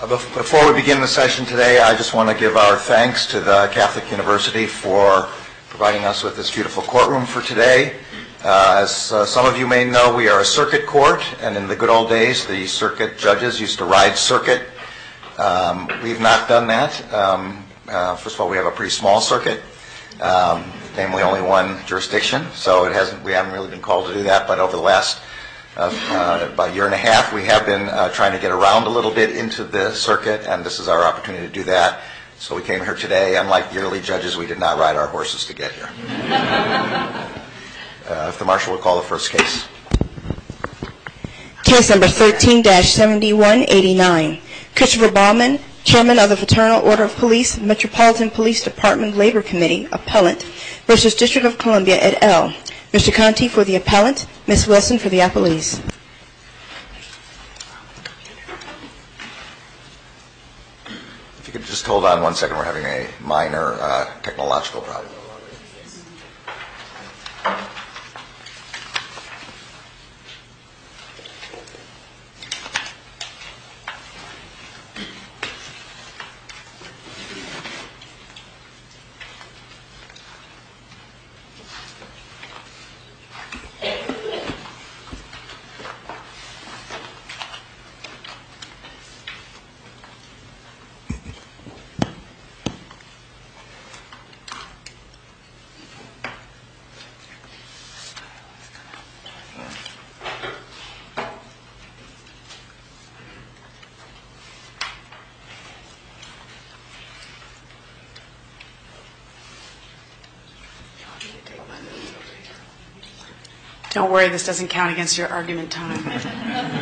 Before we begin the session today, I just want to give our thanks to the Catholic University for providing us with this beautiful courtroom for today. As some of you may know, we are a circuit court, and in the good old days, the circuit judges used to ride circuit. We've not done that. First of all, we have a pretty small circuit, namely only one jurisdiction, so we haven't really been called to do that, but over the last year and a half, we have been trying to get around a little bit into the circuit, and this is our opportunity to do that, so we came here today. Unlike yearly judges, we did not ride our horses to get here. The marshal will call the first case. Case number 13-7189. Christopher Baumann, Chairman of the Paternal Order of Police, Metropolitan Police Department Labor Committee, Appellant, v. District of Columbia, et al. Mr. Conte for the Appellant, Ms. Weston for the Appellant. Thank you. If you could just hold on one second, we're having a minor technological problem. Don't worry. This doesn't count against your argument in time.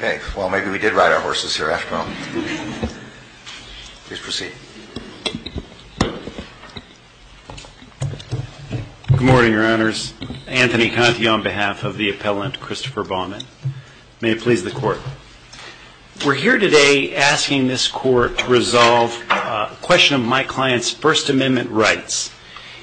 Okay. Well, maybe we did ride our horses here after all. Please proceed. Good morning, Your Honors. Anthony Conte on behalf of the Appellant, Christopher Baumann. May it please the Court. We're here today asking this Court to resolve a question of my client's First Amendment rights,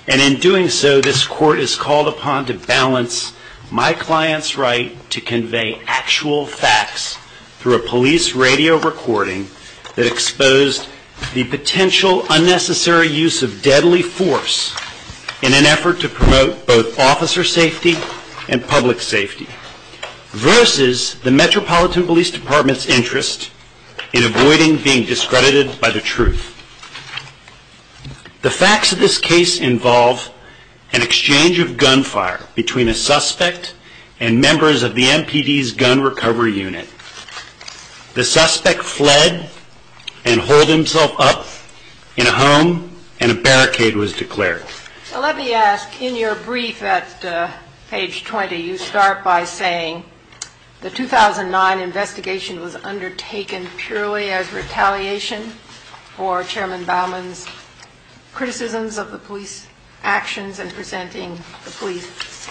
and in doing so, this Court is called upon to balance my client's right to convey actual facts through a police radio recording that exposed the potential unnecessary use of deadly force in an effort to promote both officer safety and public safety versus the Metropolitan Police Department's interest in avoiding being discredited by the truth. The facts of this case involve an exchange of gunfire between a suspect and members of the MPD's gun recovery unit. The suspect fled and holed himself up in a home, and a barricade was declared. Well, let me ask, in your brief at page 20, you start by saying, the 2009 investigation was undertaken purely as retaliation for Chairman Baumann's criticisms of the police actions and presenting the police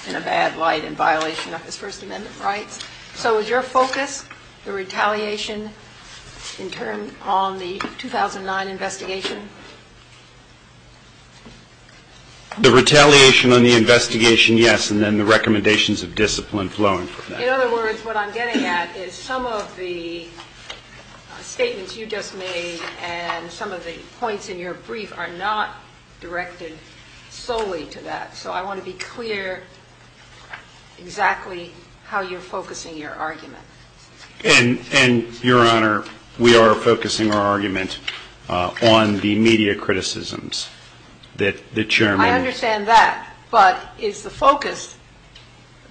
in a bad light in violation of his First Amendment rights. So is your focus the retaliation in turn on the 2009 investigation? The retaliation on the investigation, yes, and then the recommendations of discipline flowing from that. In other words, what I'm getting at is some of the statements you just made and some of the points in your brief are not directed solely to that. So I want to be clear exactly how you're focusing your argument. And, Your Honor, we are focusing our argument on the media criticisms that Chairman- I understand that, but is the focus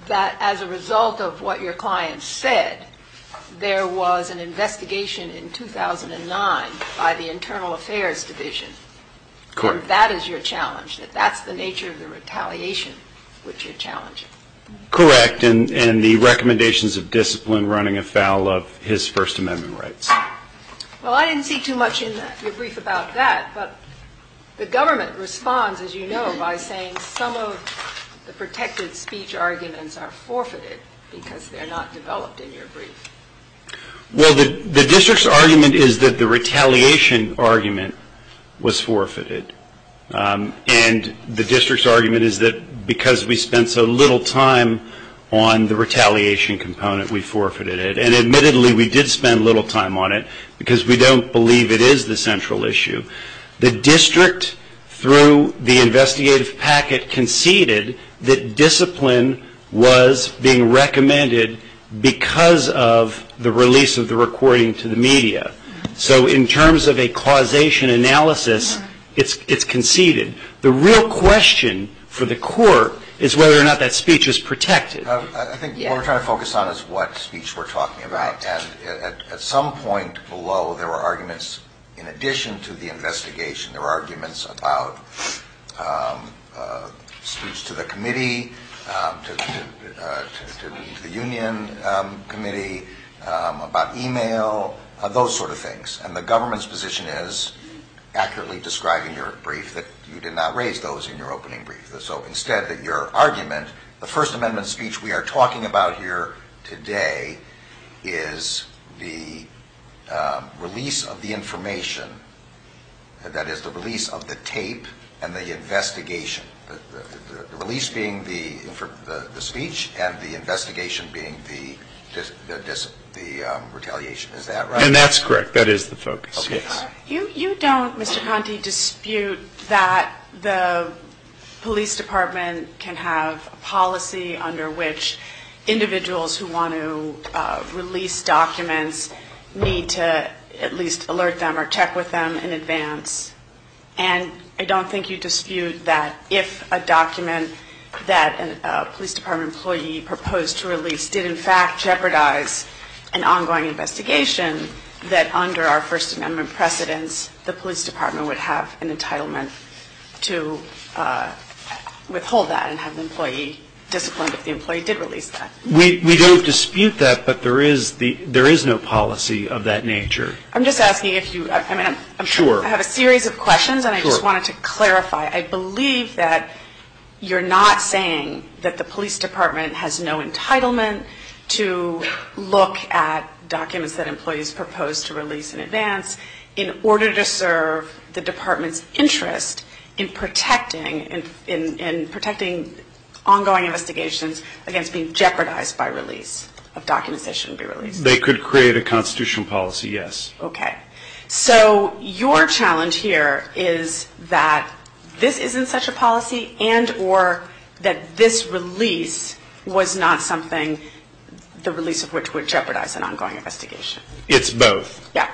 that as a result of what your client said, there was an investigation in 2009 by the Internal Affairs Division, and that is your challenge, that that's the nature of the retaliation which you're challenging? Correct, and the recommendations of discipline running afoul of his First Amendment rights. Well, I didn't see too much in your brief about that, but the government responds, as you know, by saying some of the protected speech arguments are forfeited because they're not developed in your brief. Well, the district's argument is that the retaliation argument was forfeited, and the district's argument is that because we spent so little time on the retaliation component, we forfeited it. And admittedly, we did spend a little time on it because we don't believe it is the central issue. The district, through the investigative packet, conceded that discipline was being recommended because of the release of the recording to the media. So in terms of a causation analysis, it's conceded. The real question for the court is whether or not that speech is protected. I think what we're trying to focus on is what speech we're talking about. And at some point below, there were arguments in addition to the investigation. There were arguments about speech to the committee, to the union committee, about email, those sort of things. And the government's position is, accurately describing your brief, that you did not raise those in your opening brief. So instead, your argument, the First Amendment speech we are talking about here today is the release of the information. That is, the release of the tape and the investigation. The release being the speech and the investigation being the retaliation. Is that right? And that's correct. That is the focus. You don't, Mr. Conte, dispute that the police department can have a policy under which individuals who want to release documents need to at least alert them or check with them in advance. And I don't think you dispute that if a document that a police department employee proposed to release did in fact jeopardize an ongoing investigation, that under our First Amendment precedence, the police department would have an entitlement to withhold that and have the employee disciplined if the employee did release that. We don't dispute that, but there is no policy of that nature. I'm just asking if you, I mean, I have a series of questions and I just wanted to clarify. I believe that you're not saying that the police department has no entitlement to look at documents that employees proposed to release in advance in order to serve the department's interest in protecting ongoing investigations against being jeopardized by release of documents that shouldn't be released. They could create a constitutional policy, yes. Okay. So your challenge here is that this isn't such a policy and or that this release was not something, the release of which would jeopardize an ongoing investigation. It's both. Yeah.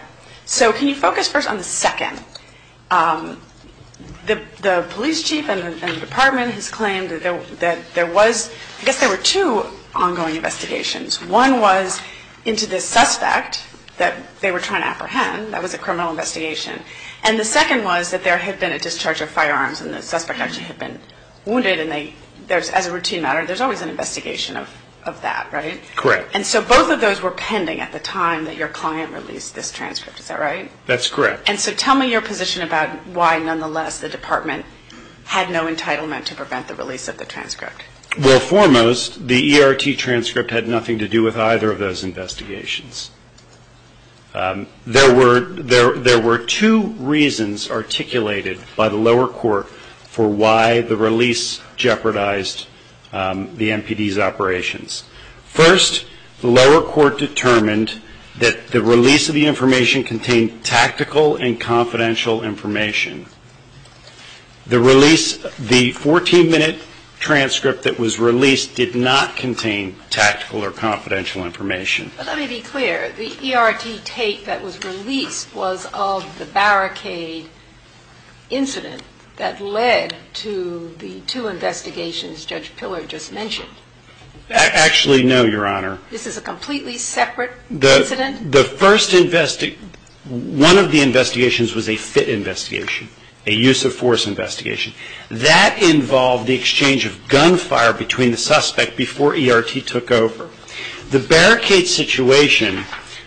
So can you focus first on the second? The police chief and the department has claimed that there was, I guess there were two ongoing investigations. One was into the suspect that they were trying to apprehend. That was a criminal investigation. And the second was that there had been a discharge of firearms and the suspect actually had been wounded and they, as a routine matter, there's always an investigation of that, right? Correct. And so both of those were pending at the time that your client released this transcript. Is that right? That's correct. And so tell me your position about why, nonetheless, the department had no entitlement to prevent the release of the transcript. Well, foremost, the ERT transcript had nothing to do with either of those investigations. There were two reasons articulated by the lower court for why the release jeopardized the MPD's operations. First, the lower court determined that the release of the information contained tactical and confidential information. The release, the 14-minute transcript that was released did not contain tactical or confidential information. But let me be clear. The ERT tape that was released was of the barricade incident that led to the two investigations Judge Pillar just mentioned. Actually, no, Your Honor. This is a completely separate incident? One of the investigations was a FIT investigation, a use-of-force investigation. That involved the exchange of gunfire between the suspect before ERT took over. The barricade situation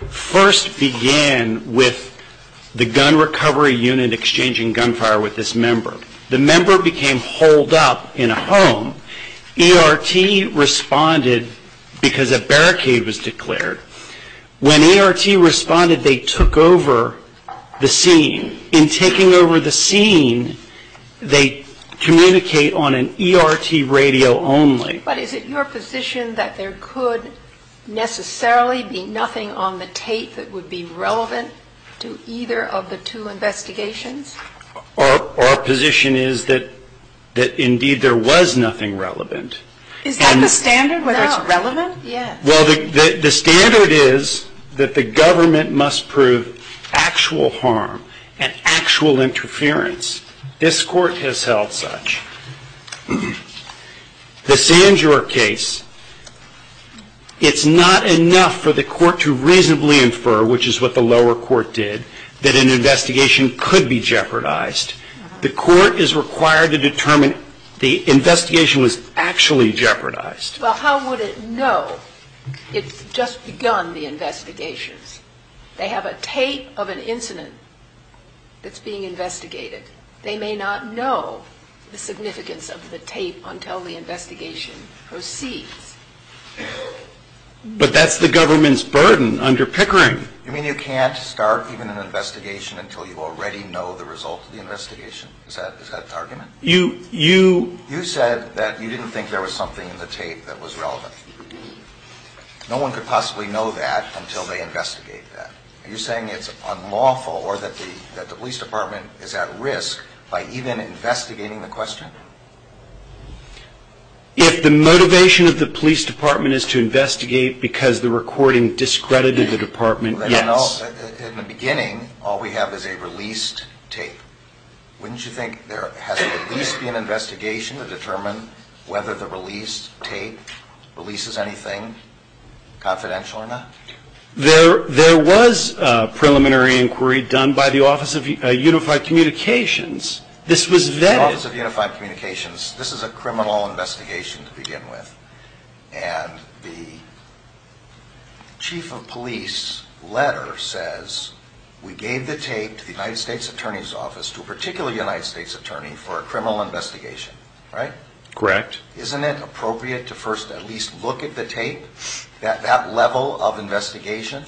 first began with the gun recovery unit exchanging gunfire with this member. The member became holed up in a home. ERT responded because a barricade was declared. When ERT responded, they took over the scene. In taking over the scene, they communicate on an ERT radio only. But is it your position that there could necessarily be nothing on the tape that would be relevant to either of the two investigations? Our position is that, indeed, there was nothing relevant. Is that the standard, whether it's relevant? Well, the standard is that the government must prove actual harm and actual interference. This court has held such. The Sanjor case, it's not enough for the court to reasonably infer, which is what the lower court did, that an investigation could be jeopardized. The court is required to determine the investigation was actually jeopardized. Well, how would it know? It's just begun the investigation. They have a tape of an incident that's being investigated. They may not know the significance of the tape until the investigation proceeds. But that's the government's burden under Pickering. You mean you can't start even an investigation until you already know the results of the investigation? Is that the argument? You said that you didn't think there was something in the tape that was relevant. No one could possibly know that until they investigate that. Are you saying it's unlawful or that the police department is at risk by even investigating the question? If the motivation of the police department is to investigate because the recording discredited the department, yes. In the beginning, all we have is a released tape. Wouldn't you think there has to at least be an investigation to determine whether the released tape releases anything confidential or not? There was a preliminary inquiry done by the Office of Unified Communications. The Office of Unified Communications. This is a criminal investigation to begin with. And the chief of police letter says we gave the tape to the United States Attorney's Office, to a particular United States attorney for a criminal investigation, right? Correct. Isn't it appropriate to first at least look at the tape at that level of investigation?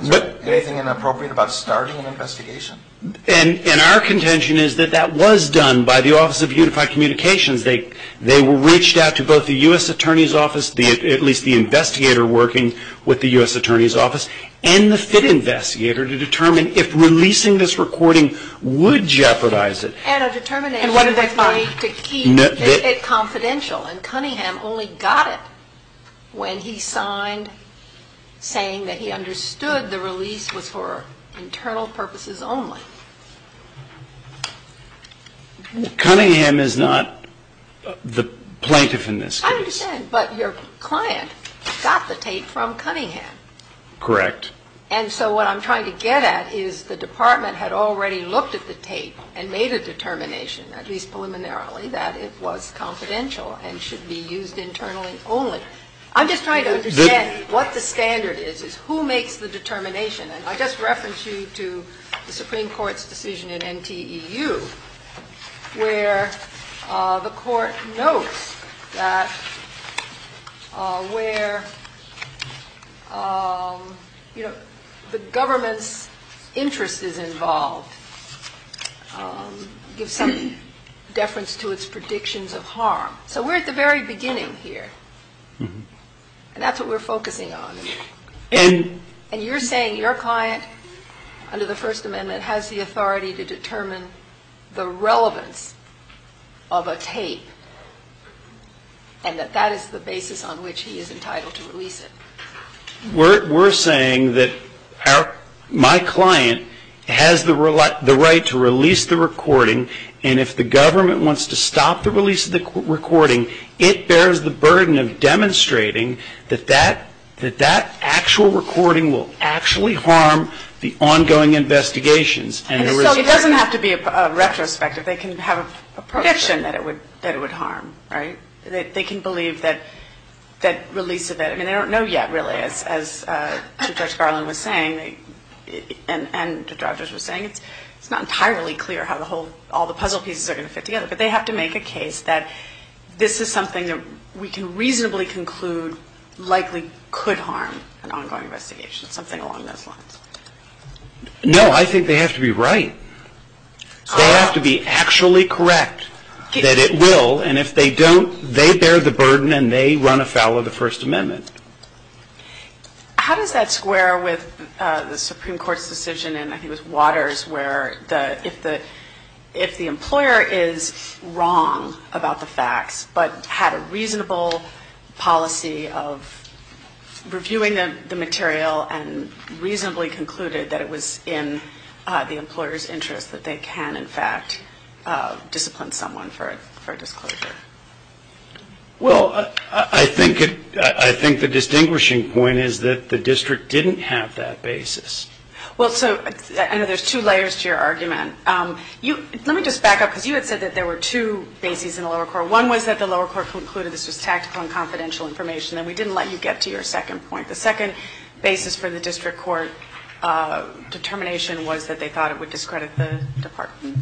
Is there anything inappropriate about starting an investigation? And our contention is that that was done by the Office of Unified Communications. They reached out to both the U.S. Attorney's Office, at least the investigator working with the U.S. Attorney's Office, and the FIT investigator to determine if releasing this recording would jeopardize it. And a determination that might keep it confidential, and Cunningham only got it when he signed saying that he understood the release was for internal purposes only. Cunningham is not the plaintiff in this case. I understand, but your client got the tape from Cunningham. Correct. And so what I'm trying to get at is the department had already looked at the tape and made a determination, at least preliminarily, that it was confidential and should be used internally only. I'm just trying to understand what the standard is. Who makes the determination? And I just referenced you to the Supreme Court's decision in NTEU where the court notes that where the government's interest is involved gives some deference to its predictions of harm. So we're at the very beginning here. And that's what we're focusing on. And you're saying your client, under the First Amendment, has the authority to determine the relevance of a tape, and that that is the basis on which he is entitled to release it. We're saying that my client has the right to release the recording, and if the government wants to stop the release of the recording, it bears the burden of demonstrating that that actual recording will actually harm the ongoing investigations. So it doesn't have to be a retrospective. They can have a prediction that it would harm, right? They can believe that release of it. I mean, they don't know yet, really. As Judge Garland was saying and the judges were saying, it's not entirely clear how all the puzzle pieces are going to fit together. But they have to make a case that this is something that we can reasonably conclude likely could harm an ongoing investigation, something along those lines. No, I think they have to be right. They have to be actually correct that it will, and if they don't, they bear the burden and they run afoul of the First Amendment. How does that square with the Supreme Court's decision in, I think it was Waters, where if the employer is wrong about the facts, but had a reasonable policy of reviewing the material and reasonably concluded that it was in the employer's interest, that they can, in fact, discipline someone for disclosure? Well, I think the distinguishing point is that the district didn't have that basis. Well, so I know there's two layers to your argument. Let me just back up because you had said that there were two bases in the lower court. One was that the lower court concluded this was tactical and confidential information and we didn't let you get to your second point. The second basis for the district court's determination was that they thought it would discredit the department.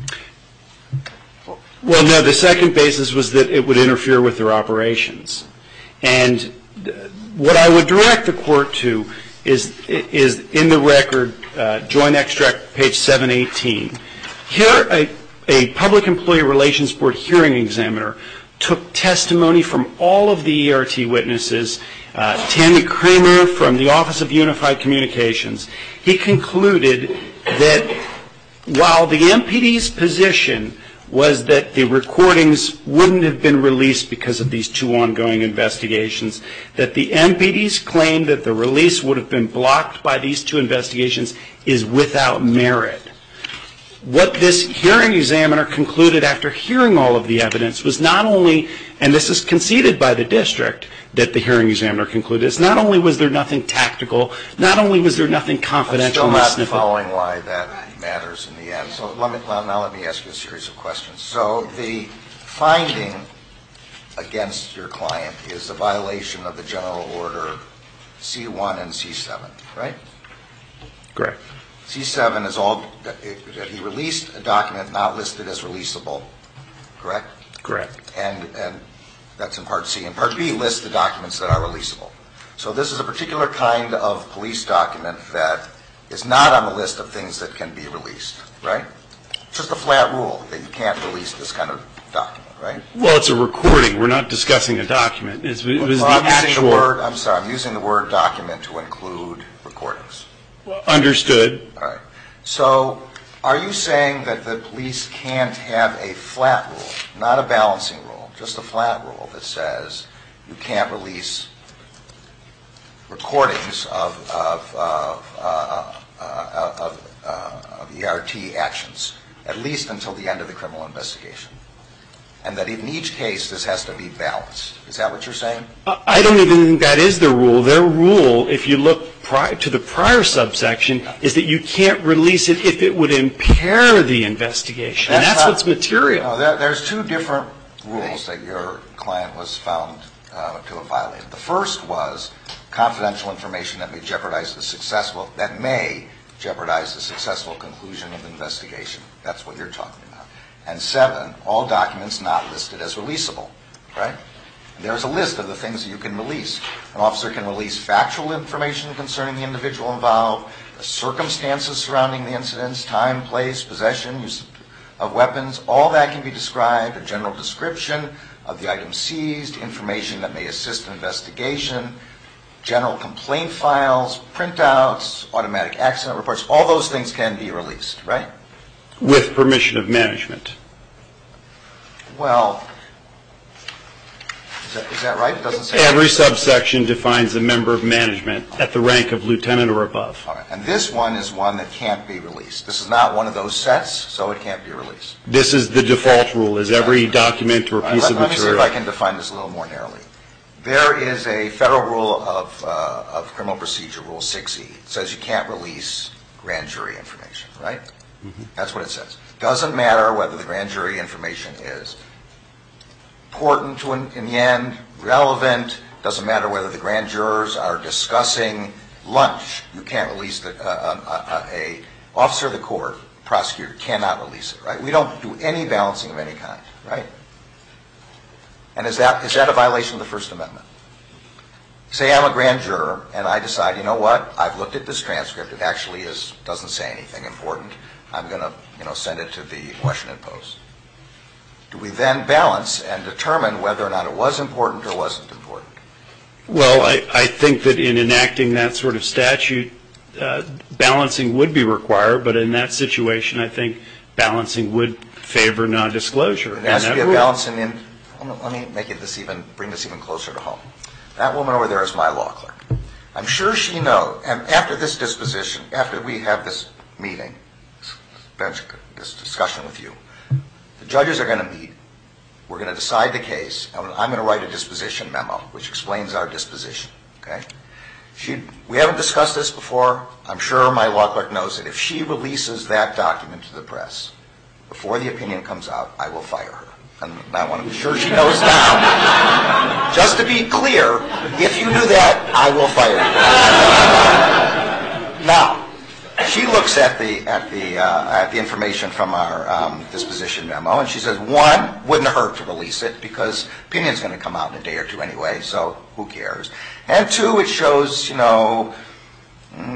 Well, no, the second basis was that it would interfere with their operations. And what I would direct the court to is in the record, Joint Extract, page 718. Here, a public employee relations board hearing examiner took testimony from all of the ERT witnesses, Tammy Cramer from the Office of Unified Communications. He concluded that while the MPD's position was that the recordings wouldn't have been released because of these two ongoing investigations, that the MPD's claim that the release would have been blocked by these two investigations is without merit. What this hearing examiner concluded after hearing all of the evidence was not only, and this was conceded by the district that the hearing examiner concluded, not only was there nothing tactical, not only was there nothing confidential. I'm still not following why that matters in the end, so let me ask you a series of questions. So the finding against your client is the violation of the general order C1 and C7, right? Correct. C7 is that you released a document not listed as releasable, correct? Correct. And that's in Part C. And Part B lists the documents that are releasable. So this is a particular kind of police document that is not on the list of things that can be released, right? It's just a flat rule that you can't release this kind of document, right? Well, it's a recording. We're not discussing a document. I'm sorry, I'm using the word document to include recordings. Understood. So are you saying that the police can't have a flat rule, not a balancing rule, just a flat rule that says you can't release recordings of ERT actions, at least until the end of the criminal investigation, and that in each case this has to be balanced? Is that what you're saying? I don't even think that is the rule. So their rule, if you look to the prior subsection, is that you can't release it if it would impair the investigation. And that's what's material. There's two different rules that your client was found to have violated. The first was confidential information that may jeopardize the successful conclusion of the investigation. That's what you're talking about. And seven, all documents not listed as releasable, right? There's a list of the things that you can release. An officer can release factual information concerning the individual involved, the circumstances surrounding the incidents, time, place, possessions of weapons. All that can be described, a general description of the item seized, information that may assist the investigation, general complaint files, printouts, automatic accident reports. All those things can be released, right? With permission of management. Well, is that right? Every subsection defines a member of management at the rank of lieutenant or above. And this one is one that can't be released. This is not one of those sets, so it can't be released. This is the default rule, is every document or piece of material. Let me see if I can define this a little more narrowly. There is a federal rule of criminal procedure, Rule 60. It says you can't release grand jury information, right? That's what it says. It doesn't matter whether the grand jury information is important in the end, relevant. It doesn't matter whether the grand jurors are discussing lunch. You can't release it. An officer of the court, prosecutor, cannot release it, right? We don't do any balancing of any kind, right? And is that a violation of the First Amendment? Say I'm a grand juror and I decide, you know what? I've looked at this transcript. It actually doesn't say anything important. I'm going to send it to the Washington Post. Do we then balance and determine whether or not it was important or wasn't important? Well, I think that in enacting that sort of statute, balancing would be required. But in that situation, I think balancing would favor nondisclosure. Let me bring this even closer to home. That woman over there is my law clerk. I'm sure she knows, and after this disposition, after we have this meeting, this discussion with you, the judges are going to meet, we're going to decide the case, and I'm going to write a disposition memo which explains our disposition, okay? We haven't discussed this before. I'm sure my law clerk knows that if she releases that document to the press before the opinion comes out, I will fire her. And I want to be sure she knows that. Just to be clear, if you do that, I will fire you. Now, she looks at the information from our disposition memo, and she says, one, it wouldn't hurt to release it because the opinion is going to come out in a day or two anyway, so who cares? And two, it shows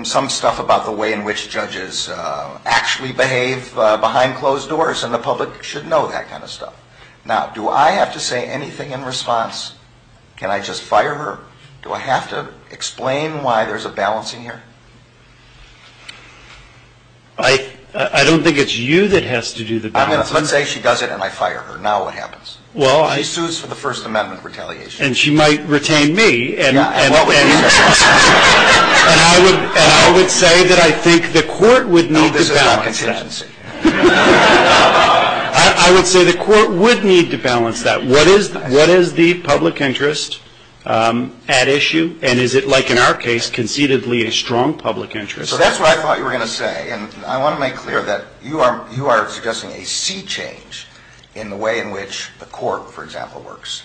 some stuff about the way in which judges actually behave behind closed doors, and the public should know that kind of stuff. Now, do I have to say anything in response? Can I just fire her? Do I have to explain why there's a balancing here? I don't think it's you that has to do the balancing. I'm going to say she does it, and I fire her. Now what happens? She sues for the First Amendment retaliation. And she might retain me, and I would say that I think the court would need this balance. No, there's no contingency. I would say the court would need to balance that. What is the public interest at issue, and is it, like in our case, concededly a strong public interest? So that's what I thought you were going to say, and I want to make clear that you are suggesting a sea change in the way in which the court, for example, works.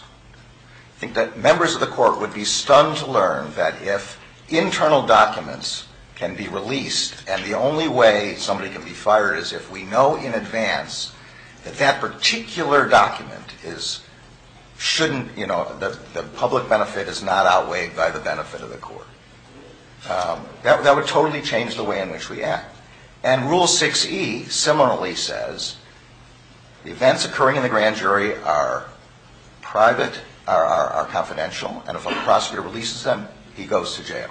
I think that members of the court would be stunned to learn that if internal documents can be released and the only way somebody can be fired is if we know in advance that that particular document is, shouldn't, you know, the public benefit is not outweighed by the benefit of the court. That would totally change the way in which we act. And Rule 6E similarly says the events occurring in the grand jury are private, are confidential, and if a prosecutor releases them, he goes to jail.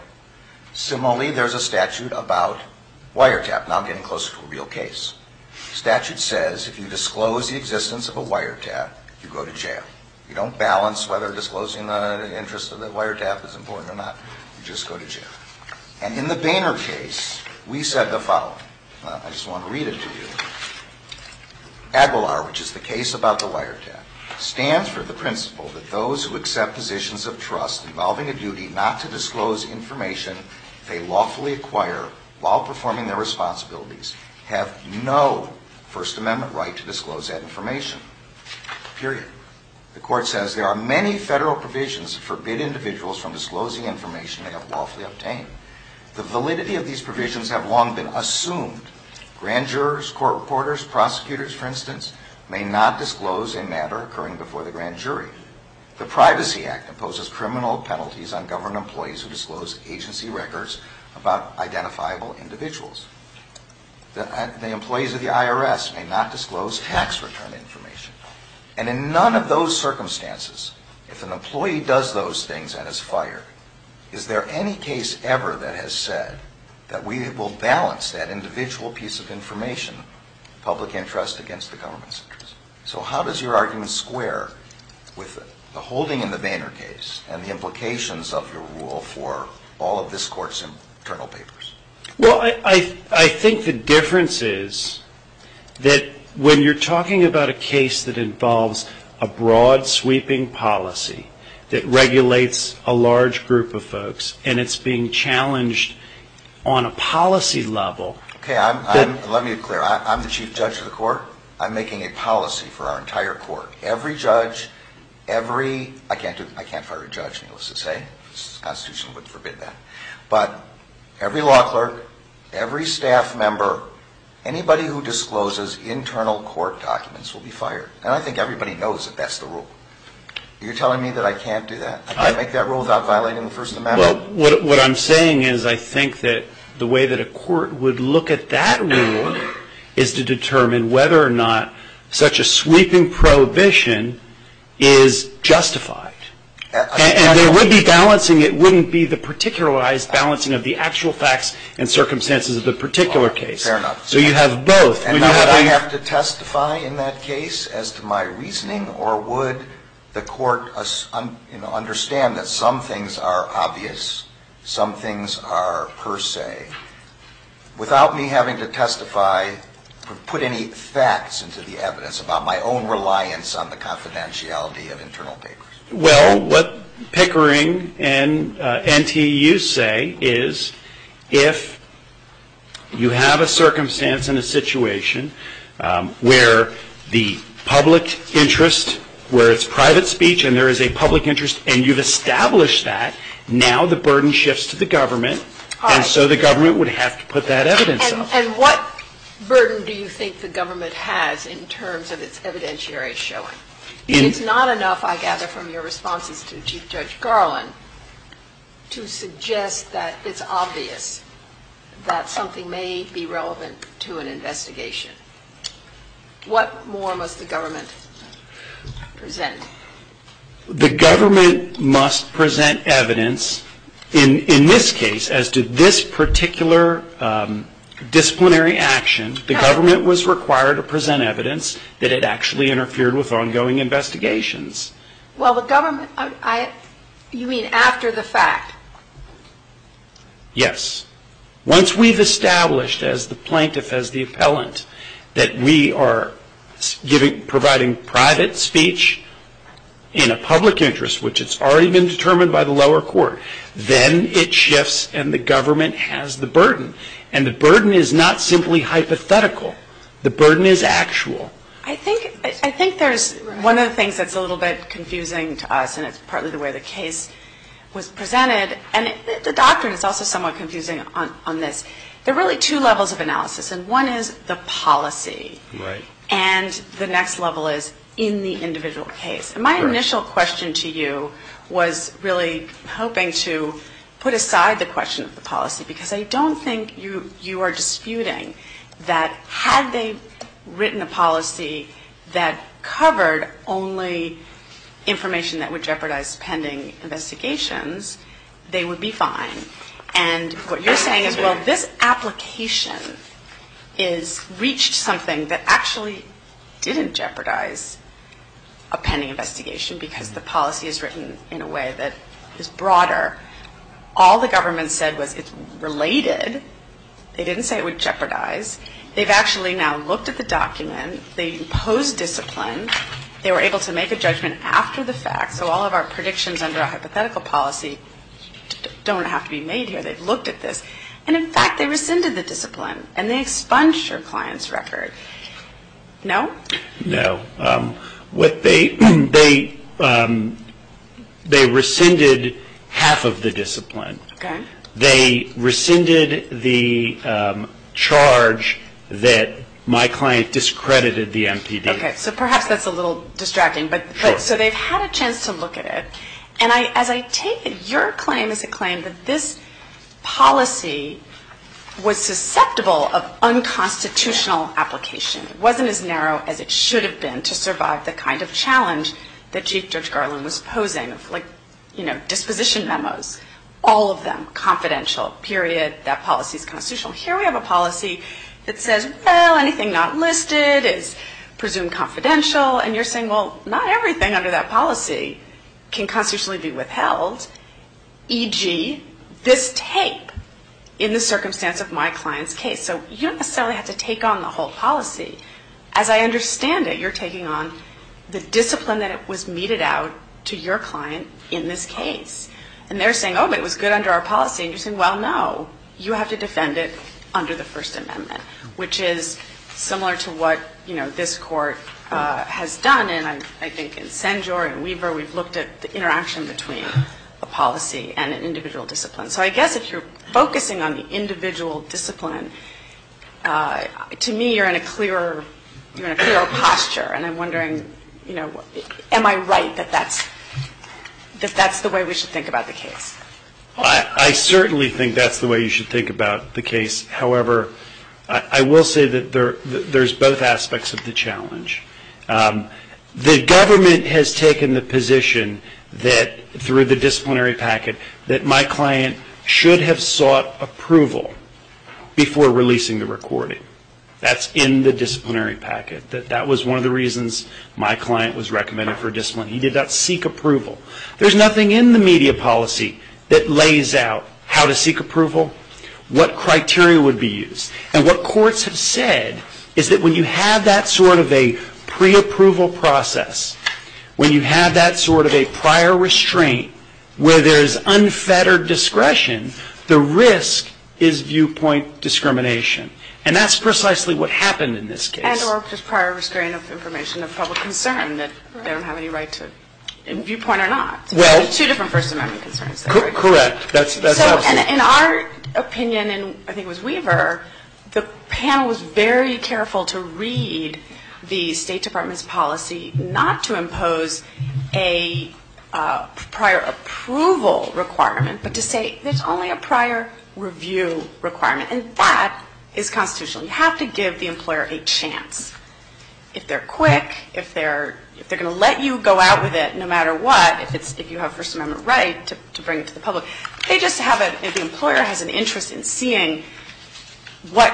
Similarly, there's a statute about wiretap. Now I'm getting close to a real case. The statute says if you disclose the existence of a wiretap, you go to jail. You don't balance whether disclosing the interest of the wiretap is important or not. You just go to jail. And in the Boehner case, we said the following. I just want to read it to you. Aguilar, which is the case about the wiretap, stands for the principle that those who accept positions of trust involving a duty not to disclose information they lawfully acquire while performing their responsibilities have no First Amendment right to disclose that information, period. The court says there are many federal provisions that forbid individuals from disclosing information they have lawfully obtained. The validity of these provisions have long been assumed. Grand jurors, court reporters, prosecutors, for instance, may not disclose a matter occurring before the grand jury. The Privacy Act imposes criminal penalties on government employees who disclose agency records about identifiable individuals. The employees of the IRS may not disclose tax return information. And in none of those circumstances, if an employee does those things and is fired, is there any case ever that has said that we will balance that individual piece of information, public interest, against the government's interest? So how does your argument square with the holding in the Boehner case and the implications of your rule for all of this court's internal papers? Well, I think the difference is that when you're talking about a case that involves a broad sweeping policy that regulates a large group of folks and it's being challenged on a policy level... Okay, let me be clear. I'm the chief judge of the court. I'm making a policy for our entire court. Every judge, every... I can't fire a judge, needless to say. The Constitution would forbid that. But every law clerk, every staff member, anybody who discloses internal court documents will be fired. And I think everybody knows that that's the rule. You're telling me that I can't do that? I can't make that rule without violating the First Amendment? Well, what I'm saying is I think that the way that a court would look at that rule is to determine whether or not such a sweeping prohibition is justified. And there would be balancing. It wouldn't be the particularized balancing of the actual facts and circumstances of the particular case. Fair enough. So you have both. And would I have to testify in that case as to my reasoning or would the court understand that some things are obvious, some things are per se, without me having to testify or put any facts into the evidence about my own reliance on the confidentiality of internal papers? Well, what Pickering and NTU say is if you have a circumstance in a situation where the public interest, where it's private speech and there is a public interest and you've established that, now the burden shifts to the government and so the government would have to put that evidence up. And what burden do you think the government has in terms of its evidentiary showing? It's not enough, I gather from your responses to Chief Judge Garland, to suggest that it's obvious that something may be relevant to an investigation. What more must the government present? In this case, as to this particular disciplinary action, the government was required to present evidence that it actually interfered with ongoing investigations. Well, the government, you mean after the fact? Yes. Once we've established as the plaintiff, as the appellant, that we are providing private speech in a public interest, which has already been determined by the lower court, then it shifts and the government has the burden. And the burden is not simply hypothetical. The burden is actual. I think there's one of the things that's a little bit confusing to us, and it's partly the way the case was presented, and the doctrine is also somewhat confusing on this. There are really two levels of analysis, and one is the policy, and the next level is in the individual case. My initial question to you was really hoping to put aside the question of the policy, because I don't think you are disputing that had they written a policy that covered only information that would jeopardize pending investigations, they would be fine. And what you're saying is, well, this application reached something that actually didn't jeopardize a pending investigation, because the policy is written in a way that is broader. All the government said was it's related. They didn't say it would jeopardize. They've actually now looked at the document. They imposed discipline. They were able to make a judgment after the fact, so all of our predictions under our hypothetical policy don't have to be made here. They've looked at this. And, in fact, they rescinded the discipline, and they expunged your client's record. No? No. They rescinded half of the discipline. Okay. They rescinded the charge that my client discredited the MPD. Okay, so perhaps that's a little distracting. But so they've had a chance to look at it. And as I take it, your claim is a claim that this policy was susceptible of unconstitutional application. It wasn't as narrow as it should have been to survive the kind of challenge that Chief Judge Garland was posing, like, you know, disposition memos, all of them confidential, period. That policy is constitutional. Here we have a policy that says, well, anything not listed is presumed confidential. And you're saying, well, not everything under that policy can constitutionally be withheld, e.g., this tape in the circumstance of my client's case. So you don't necessarily have to take on the whole policy. As I understand it, you're taking on the discipline that was meted out to your client in this case. And they're saying, oh, but it was good under our policy. And you're saying, well, no, you have to defend it under the First Amendment, which is similar to what, you know, this court has done. And I think in Senjor and Weaver, we've looked at the interaction between a policy and an individual discipline. So I get that you're focusing on the individual discipline. To me, you're in a clear posture. And I'm wondering, you know, am I right that that's the way we should think about the case? I certainly think that's the way you should think about the case. However, I will say that there's both aspects of the challenge. The government has taken the position that through the disciplinary packet that my client should have sought approval before releasing the recording. That's in the disciplinary packet. That was one of the reasons my client was recommended for discipline. He did not seek approval. There's nothing in the media policy that lays out how to seek approval, what criteria would be used. And what courts have said is that when you have that sort of a preapproval process, when you have that sort of a prior restraint where there's unfettered discretion, the risk is viewpoint discrimination. And that's precisely what happened in this case. And or just prior restraint of information of public concern that they don't have any right to viewpoint or not. Well. It's two different persons having concerns. Correct. In our opinion, and I think it was Weaver, the panel was very careful to read the State Department's policy not to impose a prior approval requirement, but to say there's only a prior review requirement. And that is constitutional. You have to give the employer a chance. If they're quick, if they're going to let you go out with it no matter what, if you have First Amendment rights to bring it to the public. They just have a, if the employer has an interest in seeing what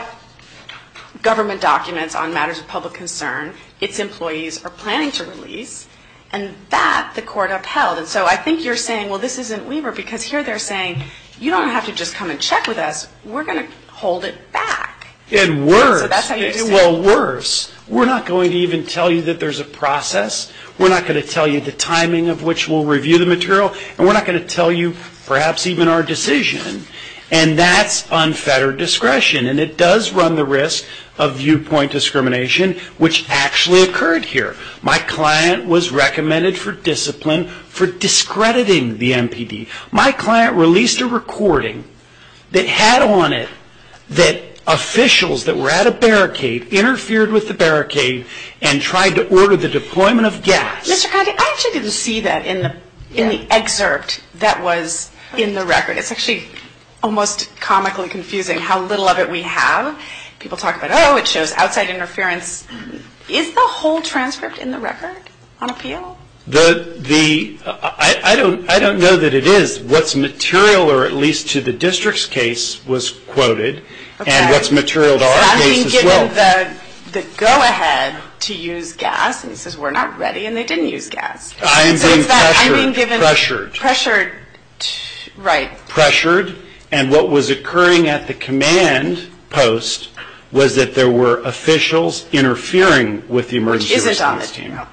government documents on matters of public concern, its employees are planning to release, and that the court upheld. And so I think you're saying, well, this isn't Weaver. Because here they're saying, you don't have to just come and check with us. We're going to hold it back. And worse. Well, worse. We're not going to even tell you that there's a process. We're not going to tell you the timing of which we'll review the material. And we're not going to tell you perhaps even our decision. And that's unfettered discretion. And it does run the risk of viewpoint discrimination, which actually occurred here. My client was recommended for discipline for discrediting the MPD. My client released a recording that had on it that officials that were at a barricade interfered with the barricade and tried to order the deployment of gas. Mr. Connolly, I actually didn't see that in the excerpt that was in the record. It's actually almost comically confusing how little of it we have. People talk about, oh, it shows outside interference. Is the whole transcript in the record on appeal? I don't know that it is. What's material, or at least to the district's case, was quoted. And what's material to our case as well. I'm being given the go-ahead to use gas. And it says we're not ready. And they didn't use gas. I'm being pressured. Pressured. Right. Pressured. And what was occurring at the command post was that there were officials interfering with the emergency response team. No.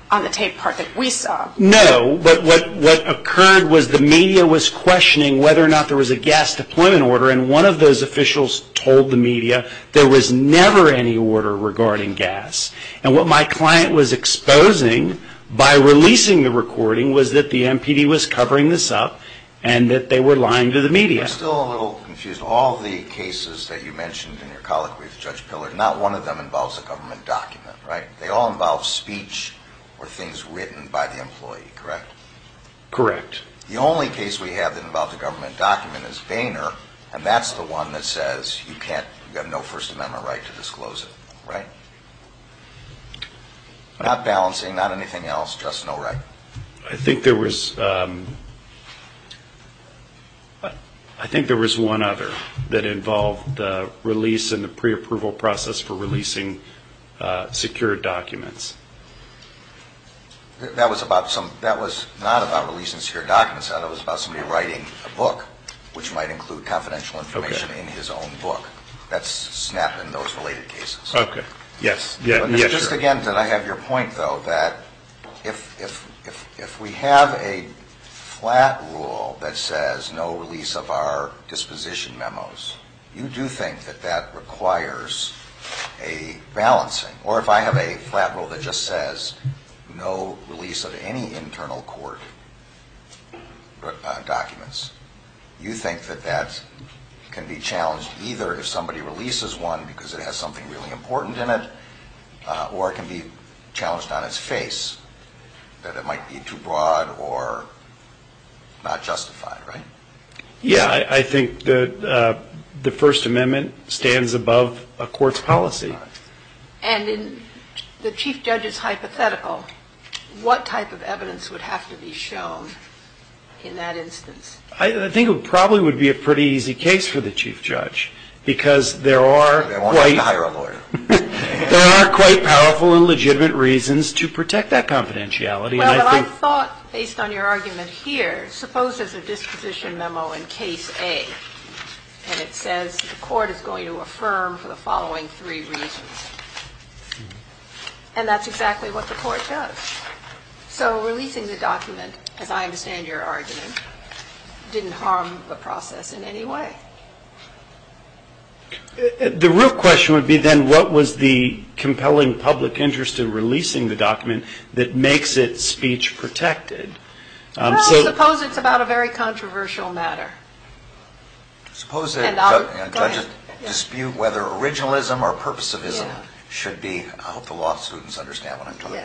What occurred was the media was questioning whether or not there was a gas deployment order. And one of those officials told the media there was never any order regarding gas. And what my client was exposing by releasing the recording was that the MPD was covering this up and that they were lying to the media. It's still a little confusing. All the cases that you mentioned in your colloquy with Judge Pillard, not one of them involves a government document, right? They all involve speech or things written by the employee, correct? Correct. The only case we have that involves a government document is Vayner. And that's the one that says you've got no First Amendment right to disclose it, right? Not balancing, not anything else, just no right. I think there was one other that involved the release and the preapproval process for releasing secured documents. That was not about releasing secured documents. That was about somebody writing a book, which might include confidential information in his own book. That's SNAP and those related cases. Okay. Yes. Just again, because I have your point, though, that if we have a flat rule that says no release of our disposition memos, you do think that that requires a balancing. Or if I have a flat rule that just says no release of any internal court documents, you think that that can be challenged either if somebody releases one because it has something really important in it, or it can be challenged on its face, that it might be too broad or not justified, right? Yes. I think the First Amendment stands above a court's policy. And if the chief judge is hypothetical, what type of evidence would have to be shown in that instance? I think it probably would be a pretty easy case for the chief judge because there are quite powerful and legitimate reasons to protect that confidentiality. Well, I thought, based on your argument here, suppose there's a disposition memo in Case A, and it says the court is going to affirm for the following three reasons. And that's exactly what the court does. So releasing the document, as I understand your argument, didn't harm the process in any way. The real question would be then what was the compelling public interest in releasing the document that makes it speech protected? Well, suppose it's about a very controversial matter. Suppose judges dispute whether originalism or purposivism should be, I hope the law students understand what I'm talking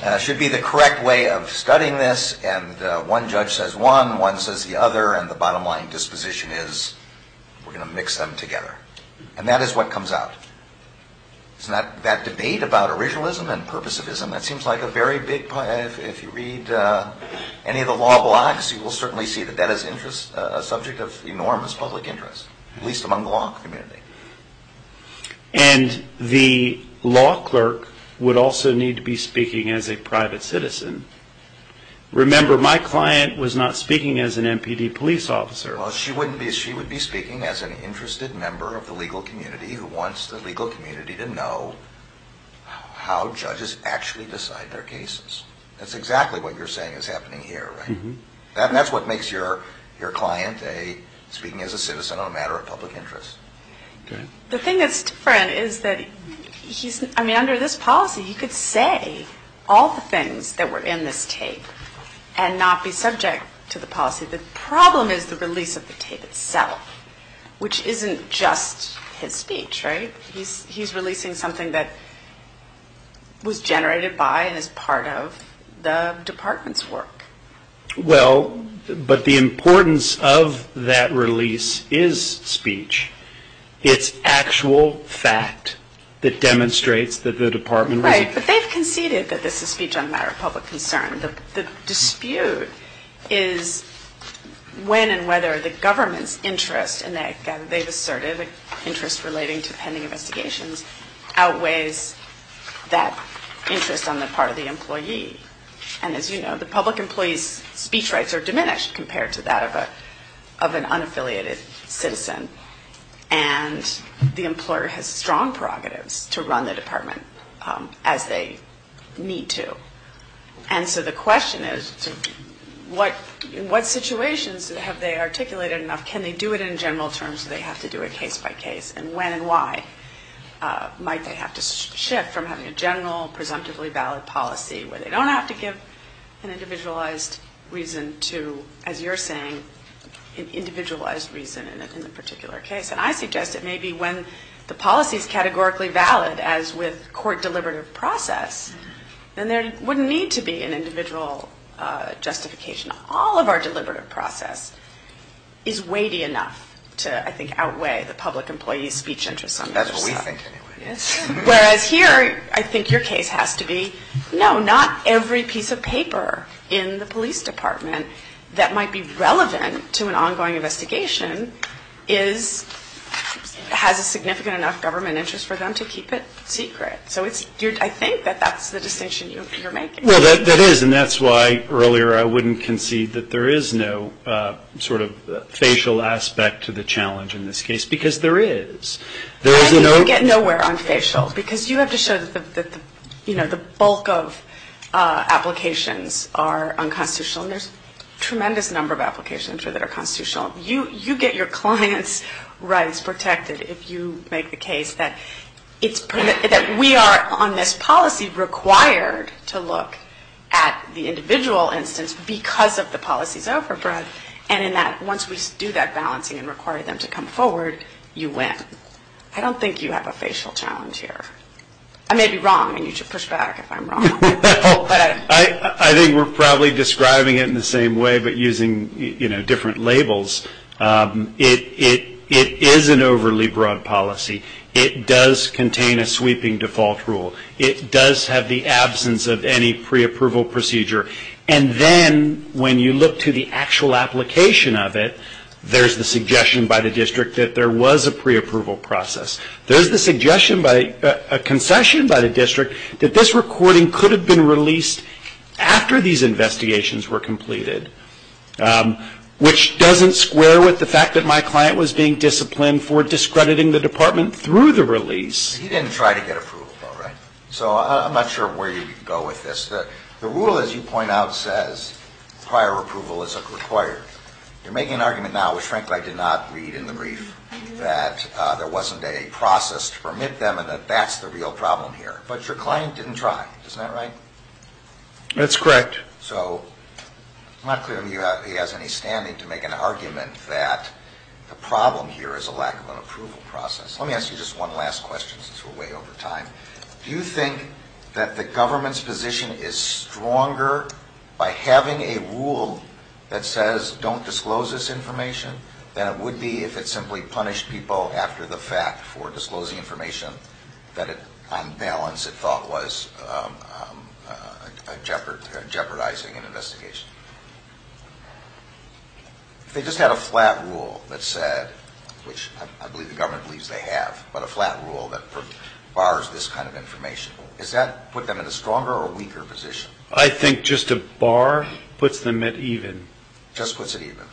about, should be the correct way of studying this, and one judge says one, one says the other, and the bottom line disposition is we're going to mix them together. And that is what comes out. That debate about originalism and purposivism, that seems like a very big, if you read any of the law blocks, you will certainly see that that is a subject of enormous public interest, at least among the law community. And the law clerk would also need to be speaking as a private citizen. Remember, my client was not speaking as an MPD police officer. She would be speaking as an interested member of the legal community who wants the legal community to know how judges actually decide their cases. That's exactly what you're saying is happening here, right? And that's what makes your client speaking as a citizen on a matter of public interest. The thing that's different is that under this policy you could say all the things that were in this case and not be subject to the policies. The problem is the release of the tape itself, which isn't just his speech, right? He's releasing something that was generated by and is part of the department's work. Well, but the importance of that release is speech. It's actual fact that demonstrates that the department... Right, but they've conceded that this is speech on a matter of public concern. The dispute is when and whether the government's interest, and they've asserted interest relating to pending investigations, outweighs that interest on the part of the employee. And as you know, the public employee's speech rights are diminished compared to that of an unaffiliated citizen. And the employer has strong prerogatives to run the department as they need to. And so the question is, in what situations have they articulated enough? Can they do it in general terms or do they have to do it case by case? And when and why might they have to shift from having a general, presumptively valid policy where they don't have to give an individualized reason to, as you're saying, an individualized reason in this particular case. And I suggest that maybe when the policy's categorically valid, as with court deliberative process, then there wouldn't need to be an individual justification. All of our deliberative process is weighty enough to, I think, outweigh the public employee's speech interest on this case. Whereas here, I think your case has to be, no, not every piece of paper in the police department that might be relevant to an ongoing investigation has a significant enough government interest for them to keep it secret. So I think that that's the decision you're making. Well, that is. And that's why earlier I wouldn't concede that there is no sort of facial aspect to the challenge in this case, because there is. I think you get nowhere on facial, because you have to show that the bulk of applications are unconstitutional. And there's a tremendous number of applications, I'm sure, that are constitutional. You get your client's rights protected if you make the case that we are, on this policy, required to look at the individual instance because of the policies offered for us. And in that, once we do that balancing and require them to come forward, you win. I don't think you have a facial challenge here. I may be wrong, and you should push back if I'm wrong. I think we're probably describing it in the same way but using different labels. It is an overly broad policy. It does contain a sweeping default rule. It does have the absence of any preapproval procedure. And then when you look to the actual application of it, there's the suggestion by the district that there was a preapproval process. There's the suggestion by a concession by the district that this recording could have been released after these investigations were completed, which doesn't square with the fact that my client was being disciplined for discrediting the department through the release. He didn't try to get approval, though, right? So I'm not sure where you would go with this. The rule, as you point out, says prior approval is required. You're making an argument now, which frankly I did not read in the brief, that there wasn't a process to permit them and that that's the real problem here. But your client didn't try. Isn't that right? That's correct. So I'm not clear if he has any standing to make an argument that the problem here is a lack of an approval process. Let me ask you just one last question since we're way over time. Do you think that the government's position is stronger by having a rule that says don't disclose this information than it would be if it simply punished people after the fact for disclosing information that on balance it thought was jeopardizing an investigation? They just had a flat rule that said, which I believe the government believes they have, but a flat rule that bars this kind of information. Does that put them in a stronger or weaker position? I think just a bar puts them at even. Just puts it even.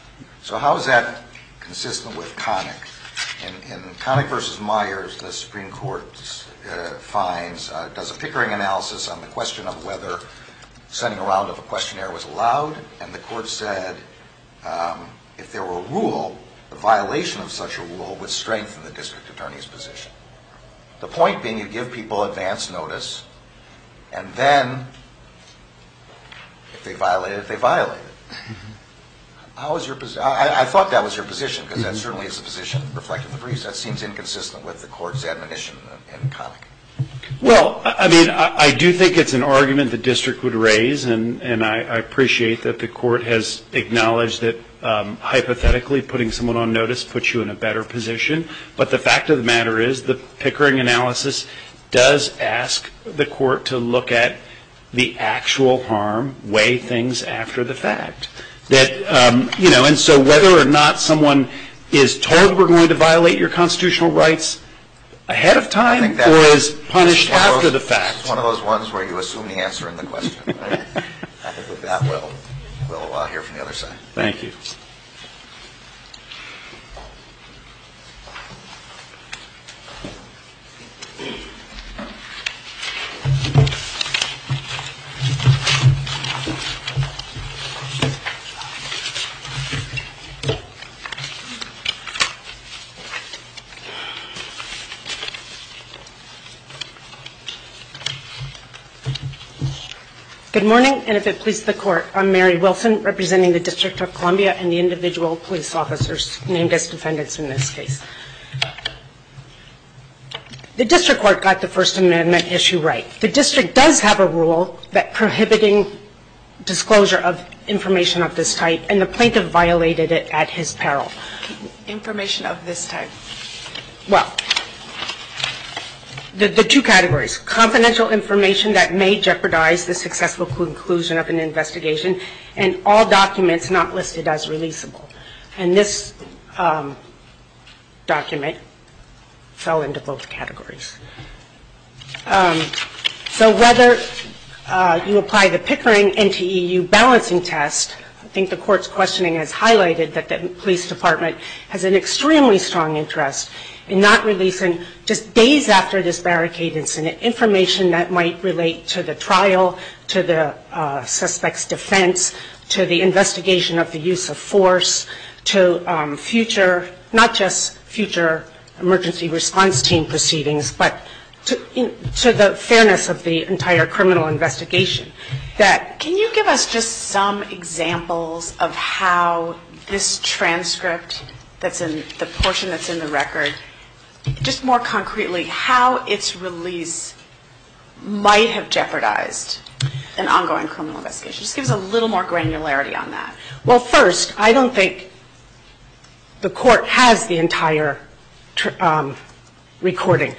So how is that consistent with Connick? In Connick v. Myers, the Supreme Court does a pickering analysis on the question of whether sending around of a questionnaire was allowed, and the court said if there were a rule, the violation of such a rule would strengthen the district attorney's position. The point being to give people advance notice, and then if they violated it, they violated it. I thought that was your position, because that certainly is a position reflected in the briefs. That seems inconsistent with the court's admonition in Connick. Well, I mean, I do think it's an argument the district would raise, and I appreciate that the court has acknowledged that hypothetically putting someone on notice puts you in a better position. But the fact of the matter is the pickering analysis does ask the court to look at the actual harm, weigh things after the fact. And so whether or not someone is told we're going to violate your constitutional rights ahead of time or is punished after the fact. That's one of those ones where you assume the answer in the question. I think with that, we'll hear from the other side. Thank you. Good morning, and if it pleases the court, I'm Mary Wilson, representing the District of Columbia and the individual police officers named as defendants in this case. The district court got the First Amendment issue right. The district does have a rule prohibiting disclosure of information of this type, and the plaintiff violated it at his peril. Information of this type. Well, the two categories, confidential information that may jeopardize the successful conclusion of an investigation, and all documents not listed as releasable. And this document fell into both categories. So whether you apply the pickering NTEU balancing test, I think the court's questioning has highlighted that the police department has an extremely strong interest in not releasing just days after this barricade incident information that might relate to the trial, to the suspect's defense, to the investigation of the use of force, to future, not just future emergency response team proceedings, but to the fairness of the entire criminal investigation. Can you give us just some examples of how this transcript, the portion that's in the record, just more concretely, how its release might have jeopardized an ongoing criminal investigation? Just give us a little more granularity on that. Well, first, I don't think the court has the entire recording.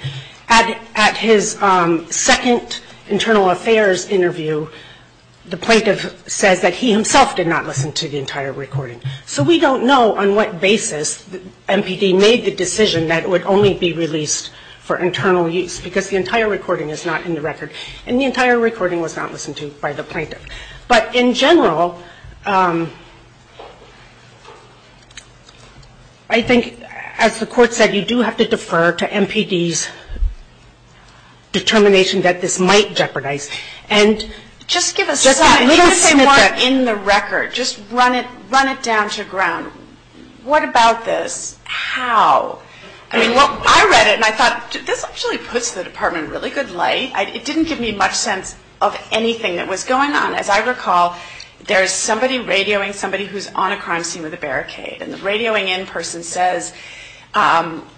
At his second internal affairs interview, the plaintiff said that he himself did not listen to the entire recording. So we don't know on what basis MPD made the decision that it would only be released for internal use, because the entire recording is not in the record. And the entire recording was not listened to by the plaintiff. But in general, I think, as the court said, you do have to defer to MPD's determination that this might jeopardize. And just give us more in the record. Just run it down to ground. What about this? How? I read it, and I thought, this actually puts the department in really good light. It didn't give me much sense of anything that was going on. As I recall, there's somebody radioing somebody who's on a crime scene with a barricade. And the radioing in person says,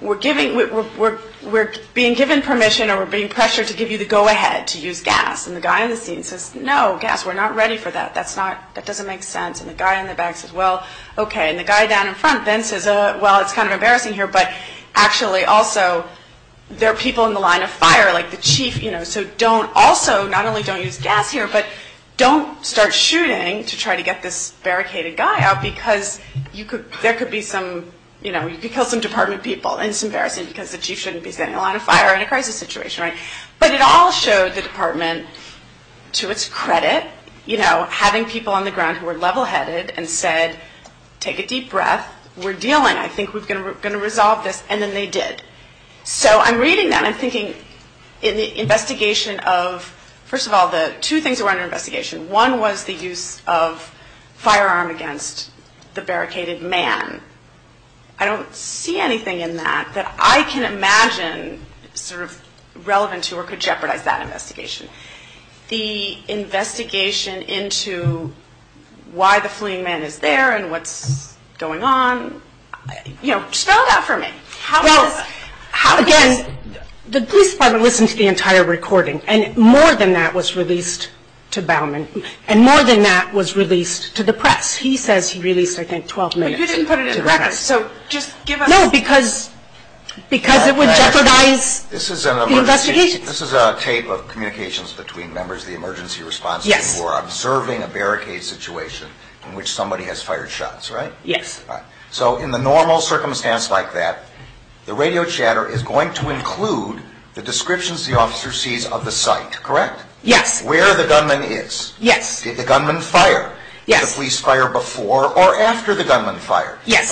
we're being given permission or we're being pressured to give you the go-ahead to use gas. And the guy on the scene says, no, gas, we're not ready for that. That doesn't make sense. And the guy in the back says, well, okay. And the guy down in front then says, well, it's kind of embarrassing here, but actually, also, there are people in the line of fire. So also, not only don't use gas here, but don't start shooting to try to get this barricaded guy out, because there could be some department people. And it's embarrassing, because the chief shouldn't be setting the line of fire in a crisis situation. But it all showed the department, to its credit, having people on the ground who were level-headed and said, take a deep breath. We're dealing. I think we're going to resolve this. And then they did. So I'm reading them. I'm thinking in the investigation of, first of all, the two things that were under investigation. One was the use of firearm against the barricaded man. I don't see anything in that that I can imagine sort of relevant to or could jeopardize that investigation. The investigation into why the fleeing man is there and what's going on. You know, spell it out for me. Again, the police department listens to the entire recording. And more than that was released to Bauman. And more than that was released to the press. He says he released, I think, 12 minutes. But you didn't put it in records. So just give us. No, because it would jeopardize the investigation. This is a tape of communications between members of the emergency response team who are observing a barricade situation in which somebody has fired shots, right? Yes. So in the normal circumstance like that, the radio chatter is going to include the descriptions the officer sees of the site, correct? Yes. Where the gunman is. Yes. Did the gunman fire? Yes. Did the police fire before or after the gunman fired? Yes.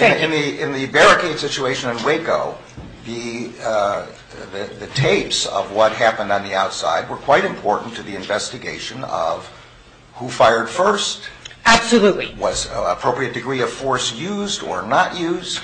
In the barricade situation in Waco, the tapes of what happened on the outside were quite important to the investigation of who fired first. Absolutely. Was an appropriate degree of force used or not used?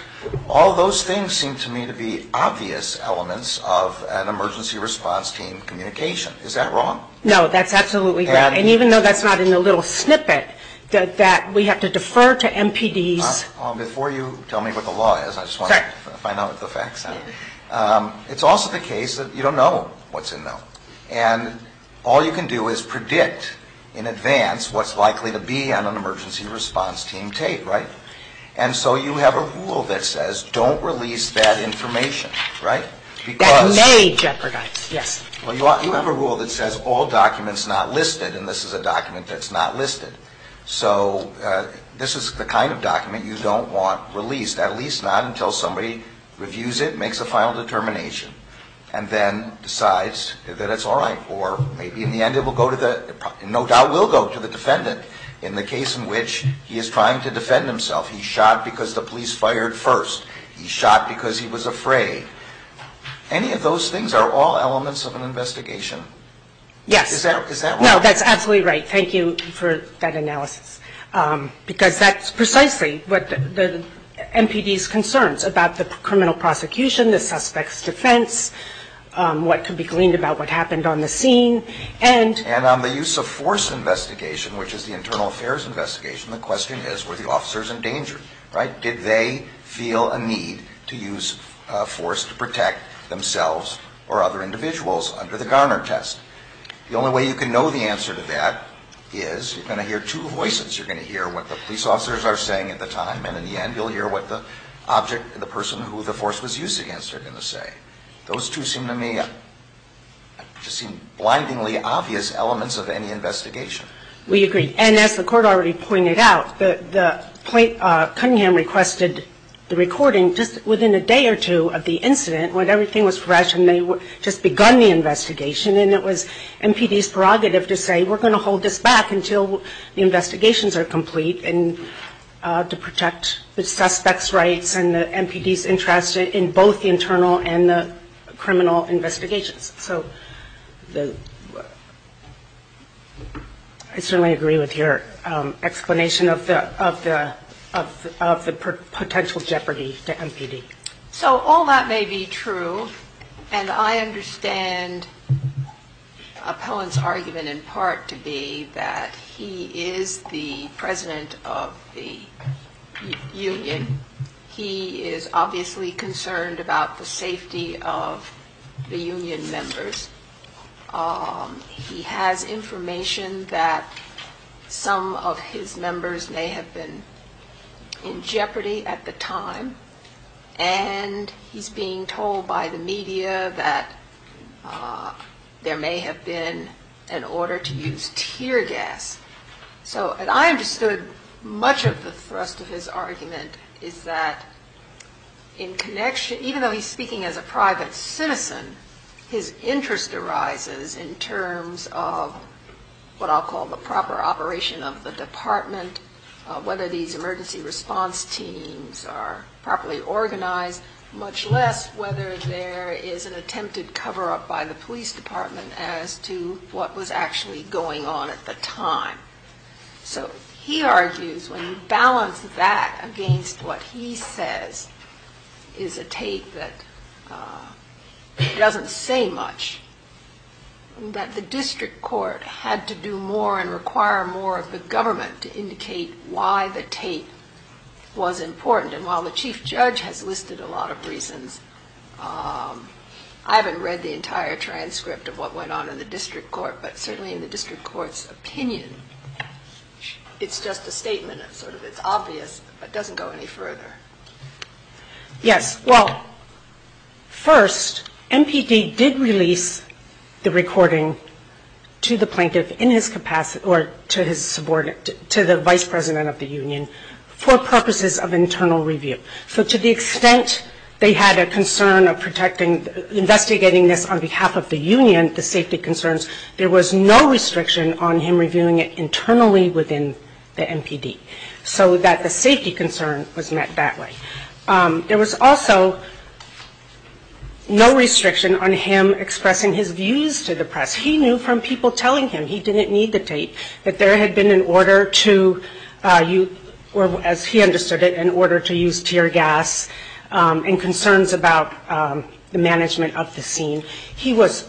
All those things seem to me to be obvious elements of an emergency response team communication. Is that wrong? No, that's absolutely right. And even though that's not in the little snippet that we have to defer to MPDs. Before you tell me what the law is, I just want to find out what the facts are. It's also the case that you don't know what's in there. And all you can do is predict in advance what's likely to be on an emergency response team tape, right? And so you have a rule that says don't release bad information, right? That may jeopardize, yes. Well, you have a rule that says all documents not listed, and this is a document that's not listed. So this is the kind of document you don't want released, at least not until somebody reviews it, makes a final determination, and then decides that it's all right. Or maybe in the end it will go to the, no doubt will go to the defendant in the case in which he is trying to defend himself. He shot because the police fired first. He shot because he was afraid. Any of those things are all elements of an investigation? Yes. Is that right? No, that's absolutely right. Thank you for that analysis. Because that's precisely what the MPD's concerns about the criminal prosecution, the suspect's defense, what can be gleaned about what happened on the scene, and... And on the use of force investigation, which is the internal affairs investigation, the question is were the officers in danger, right? Did they feel a need to use force to protect themselves or other individuals under the Garner test? The only way you can know the answer to that is you're going to hear two voices. You're going to hear what the police officers are saying at the time, and in the end you'll hear what the object and the person who the force was used against are going to say. Those two seem to me to seem blindingly obvious elements of any investigation. We agree. And as the court already pointed out, Cunningham requested the recording just within a day or two of the incident when everything was fresh and they had just begun the investigation, and it was MPD's prerogative to say we're going to hold this back until the investigations are complete and to protect the suspect's rights and the MPD's interest in both the internal and the criminal investigation. So I certainly agree with your explanation of the potential jeopardy to MPD. So all that may be true, and I understand Appellant's argument in part to be that he is the president of the union. He is obviously concerned about the safety of the union members. He has information that some of his members may have been in jeopardy at the time, and he's being told by the media that there may have been an order to use tear gas. And I understood much of the thrust of his argument is that in connection, even though he's speaking as a private citizen, his interest arises in terms of what I'll call the proper operation of the department, whether these emergency response teams are properly organized, much less whether there is an attempted cover-up by the police department as to what was actually going on at the time. So he argues when you balance that against what he says is a tape that doesn't say much, that the district court had to do more and require more of the government to indicate why the tape was important. And while the chief judge has listed a lot of reasons, I haven't read the entire transcript of what went on in the district court, but certainly in the district court's opinion, it's just a statement. It's obvious, but it doesn't go any further. Yes, well, first, MPD did release the recording to the plaintiff in his capacity, or to the vice president of the union, for purposes of internal review. So to the extent they had a concern of investigating this on behalf of the union, the safety concerns, there was no restriction on him reviewing it internally within the MPD, so that the safety concern was met that way. There was also no restriction on him expressing his views to the press. He knew from people telling him he didn't need the tape, that there had been an order to use, or as he understood it, an order to use tear gas and concerns about the management of the scene. He was...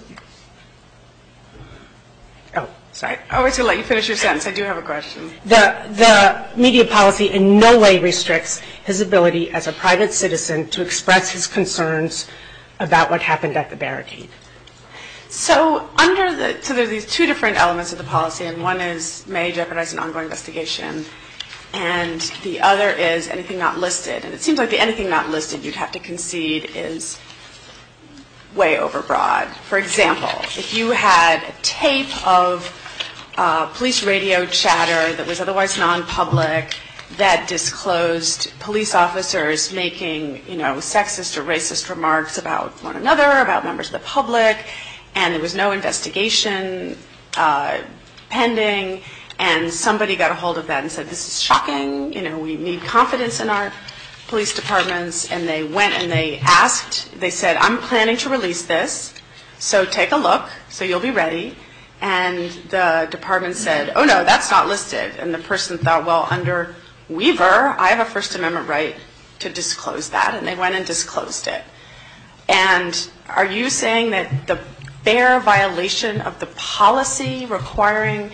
Oh, sorry. I'm going to let you finish your sentence. I do have a question. The media policy in no way restricts his ability as a private citizen to express his concerns about what happened at the barricades. So under the... So there are these two different elements of the policy, and one is may recognize an ongoing investigation, and the other is anything not listed. And it seems like the anything not listed you'd have to concede is way overbroad. For example, if you had a tape of police radio chatter that was otherwise nonpublic that disclosed police officers making sexist or racist remarks about one another, about members of the public, and there was no investigation pending, and somebody got a hold of that and said, this is shocking, we need confidence in our police departments. And they went and they asked, they said, I'm planning to release this, so take a look, so you'll be ready. And the department said, oh, no, that's not listed. And the person thought, well, under Weaver, I have a First Amendment right to disclose that, and they went and disclosed it. And are you saying that the fair violation of the policy requiring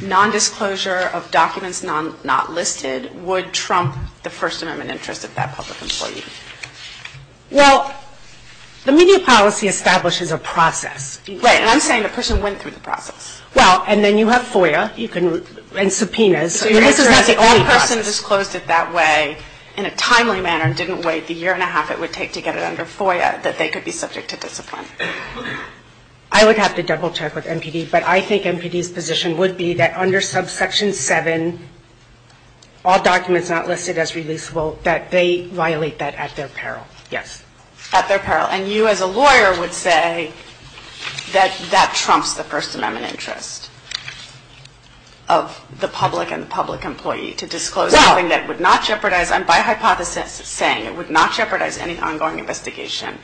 nondisclosure of documents not listed would trump the First Amendment interest of that public employee? Well, the media policy establishes a process. Right, and I'm saying the person went through the process. Well, and then you have FOIA and subpoenas. If that person disclosed it that way in a timely manner, didn't wait the year and a half it would take to get it under FOIA, that they could be subject to discipline. I would have to double check with NPD, but I think NPD's position would be that under subsection 7, all documents not listed as releasable, At their peril. And you as a lawyer would say that that trumps the First Amendment interest of the public and public employee to disclose something that would not jeopardize, I'm by hypothesis saying it would not jeopardize any ongoing investigation.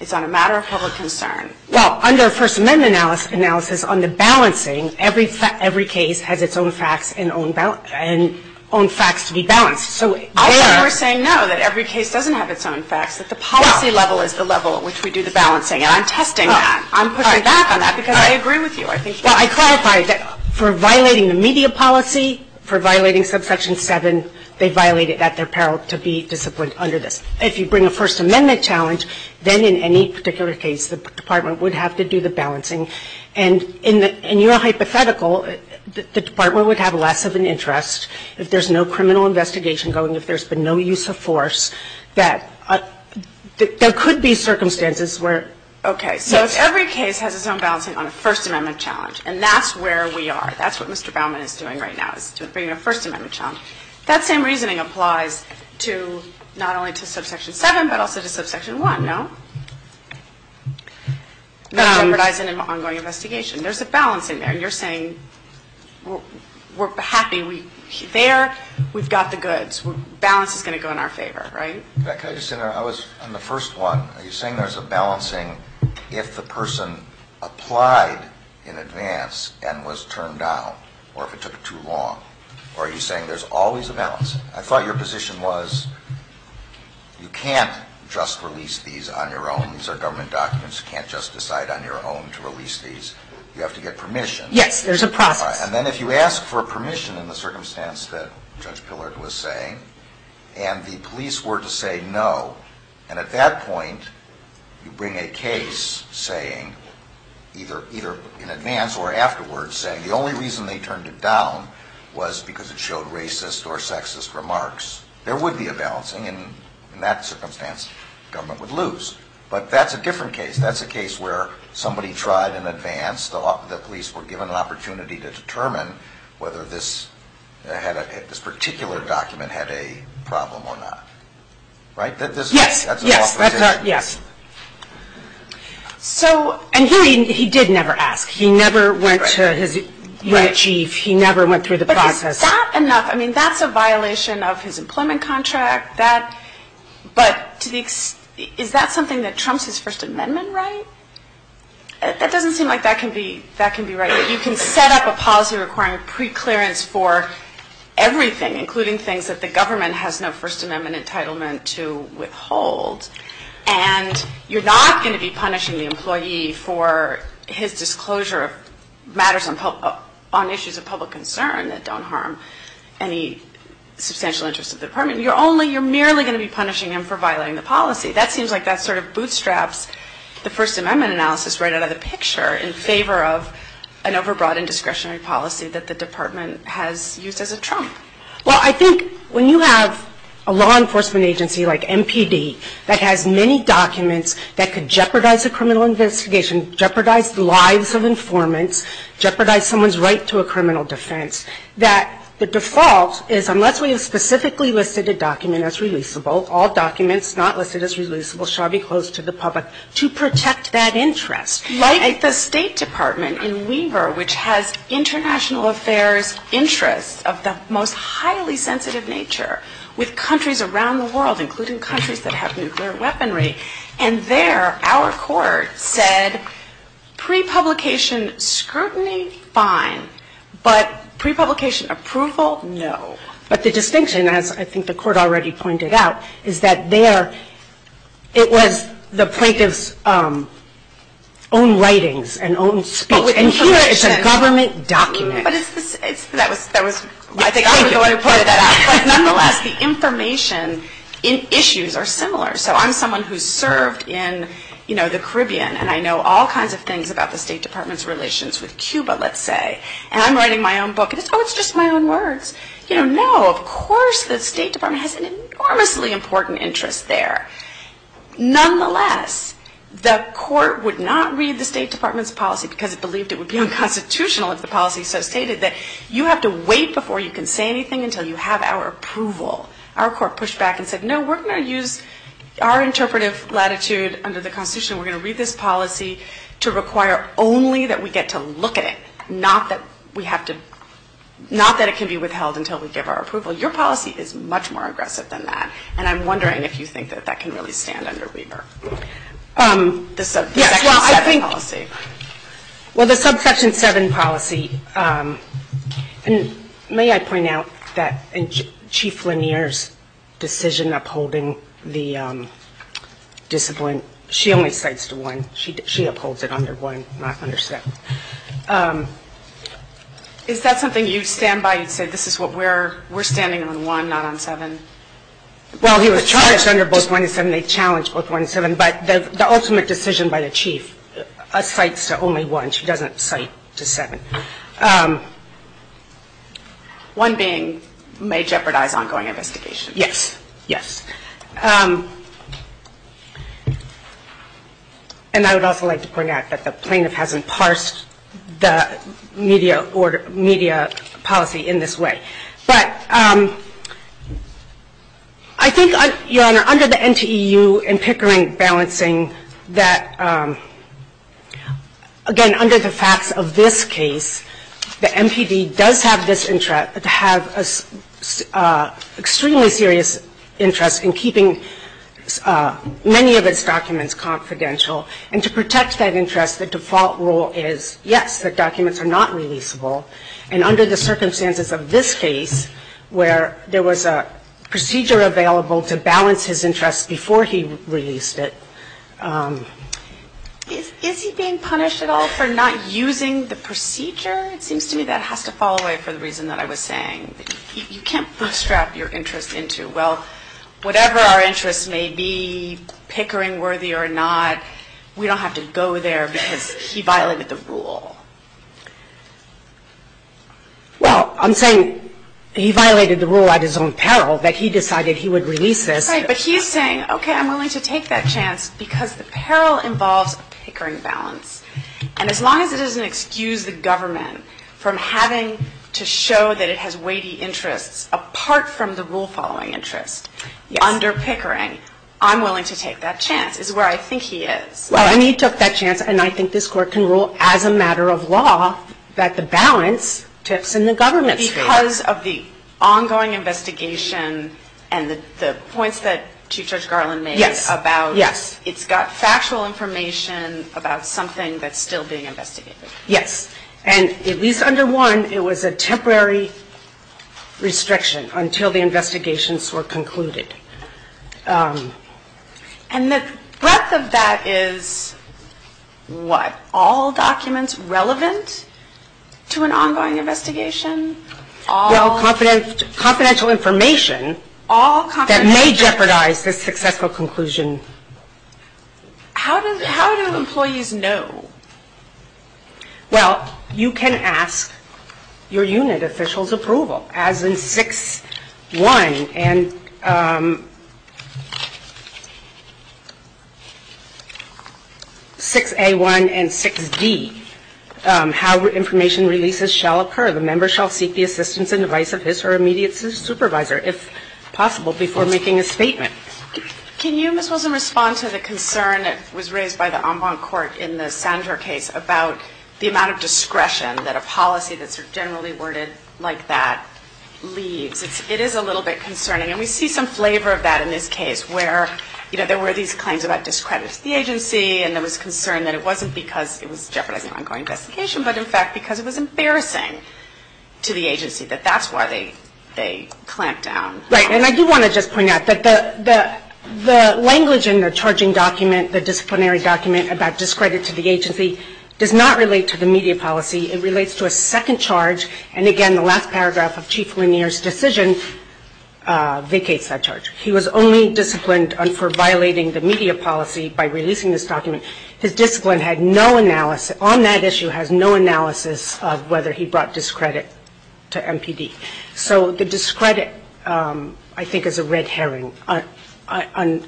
It's on a matter of public concern. Well, under a First Amendment analysis on the balancing, every case has its own facts and own facts to be balanced. So you're saying no, that every case doesn't have its own facts, that the policy level is the level at which we do the balancing. And I'm testing that. I'm pushing back on that because I agree with you. Well, I clarify that for violating the media policy, for violating subsection 7, they violated at their peril to be disciplined under this. If you bring a First Amendment challenge, then in any particular case the department would have to do the balancing. And in your hypothetical, the department would have less of an interest if there's no criminal investigation going, if there's been no use of force, that there could be circumstances where. Okay. So if every case has its own balancing on a First Amendment challenge, and that's where we are, that's what Mr. Baumann is doing right now, is bringing a First Amendment challenge, that same reasoning applies to not only to subsection 7 but also to subsection 1, no? No. Not jeopardizing an ongoing investigation. There's a balance in there. So you're saying we're happy. There we've got the goods. Balance is going to go in our favor, right? I was on the first one. Are you saying there's a balancing if the person applied in advance and was turned down or if it took too long? Or are you saying there's always a balance? I thought your position was you can't just release these on your own. These are government documents. You can't just decide on your own to release these. You have to get permission. Yes, there's a problem. And then if you ask for permission in the circumstance that Judge Pillard was saying and the police were to say no, and at that point you bring a case saying, either in advance or afterwards, saying the only reason they turned it down was because it showed racist or sexist remarks, there would be a balancing, and in that circumstance the government would lose. But that's a different case. That's a case where somebody tried in advance. The police were given an opportunity to determine whether this particular document had a problem or not. Right? Yes. And he did never ask. He never went to his chief. He never went through the process. But is that enough? I mean, that's a violation of his employment contract. But is that something that trumps his First Amendment right? It doesn't seem like that can be right. You can set up a policy requiring preclearance for everything, including things that the government has no First Amendment entitlement to withhold, and you're not going to be punishing the employee for his disclosure of matters on issues of public concern that don't harm any substantial interest of the department. You're merely going to be punishing him for violating the policy. That seems like that sort of bootstraps the First Amendment analysis right out of the picture in favor of an overbroad indiscretionary policy that the department has used as a trump. Well, I think when you have a law enforcement agency like MPD that has many documents that could jeopardize the criminal investigation, jeopardize the lives of informants, jeopardize someone's right to a criminal defense, that the default is unless we have specifically listed a document as releasable, all documents not listed as releasable shall be closed to the public to protect that interest. Like the State Department in Weber, which has international affairs interests of the most highly sensitive nature with countries around the world, including countries that have nuclear weaponry, and there our court said pre-publication scrutiny, fine, but pre-publication approval, no. But the distinction, as I think the court already pointed out, is that there it was the plaintiff's own writings and own speech. And here it's a government document. I think I was the one who pointed that out. But nonetheless, the information in issues are similar. So I'm someone who's served in the Caribbean, and I know all kinds of things about the State Department's relations with Cuba, let's say. And I'm writing my own book, and it's always just my own words. No, of course the State Department has an enormously important interest there. Nonetheless, the court would not read the State Department's policy because it believed it would be unconstitutional, as the policy so stated, that you have to wait before you can say anything until you have our approval. Our court pushed back and said, no, we're going to use our interpretive latitude under the Constitution. We're going to read this policy to require only that we get to look at it, not that it can be withheld until we give our approval. Your policy is much more aggressive than that, and I'm wondering if you think that that can really stand under Weber. The subsection 7 policy. Well, the subsection 7 policy, and may I point out that Chief Lanier's decision upholding the discipline, she only cites one. She upholds it under one, not under seven. Is that something you stand by and say, this is what we're, we're standing on one, not on seven? Well, he was trying to stand on both one and seven. They challenged both one and seven, but the ultimate decision by the chief cites only one. She doesn't cite to seven. One being, may jeopardize ongoing investigation. Yes. Yes. And I would also like to point out that the plaintiff hasn't parsed the media policy in this way. But I think, Your Honor, under the NTEU and Pickering balancing that, again, under the facts of this case, the NPD does have this interest to have an extremely serious interest in keeping many of its documents confidential, and to protect that interest, the default rule is, yes, the documents are not releasable. And under the circumstances of this case, where there was a procedure available to balance his interest before he released it. Is he being punished at all for not using the procedure? It seems to me that has to fall away for the reason that I was saying. You can't bootstrap your interest into, well, whatever our interest may be, Pickering worthy or not, we don't have to go there because he violated the rule. Well, I'm saying he violated the rule at his own peril that he decided he would release it. Right. But he's saying, okay, I'm willing to take that chance because the peril involves Pickering balance. And as long as it doesn't excuse the government from having to show that it has weighty interest, apart from the rule following interest, under Pickering, I'm willing to take that chance, which is where I think he is. Well, and he took that chance, and I think this court can rule as a matter of law that the balance sits in the government's favor. Because of the ongoing investigation and the points that Chief Judge Garland made about, it's got factual information about something that's still being investigated. Yes. And at least under one, it was a temporary restriction until the investigations were concluded. And the breadth of that is what? All documents relevant to an ongoing investigation? Well, confidential information that may jeopardize the successful conclusion. How do employees know? Well, you can ask your unit official's approval. As in 6A1 and 6D, how information releases shall occur. The member shall seek the assistance and advice of his or her immediate supervisor, if possible, before making a statement. Can you, Ms. Wilson, respond to the concern that was raised by the en banc court in the Sandor case about the amount of discretion that a policy that's generally worded like that leaves? It is a little bit concerning. And we see some flavor of that in this case, where there were these claims about discrediting the agency, and there was concern that it wasn't because it was jeopardizing an ongoing investigation, but in fact because it was embarrassing to the agency. But that's why they clamped down. Right. And I do want to just point out that the language in the charging document, the disciplinary document about discredit to the agency, does not relate to the media policy. It relates to a second charge. And, again, the last paragraph of Chief Lanier's decision vacates that charge. He was only disciplined for violating the media policy by releasing this document. His discipline had no analysis on that issue, had no analysis of whether he brought discredit to MPD. So the discredit, I think, is a red herring. On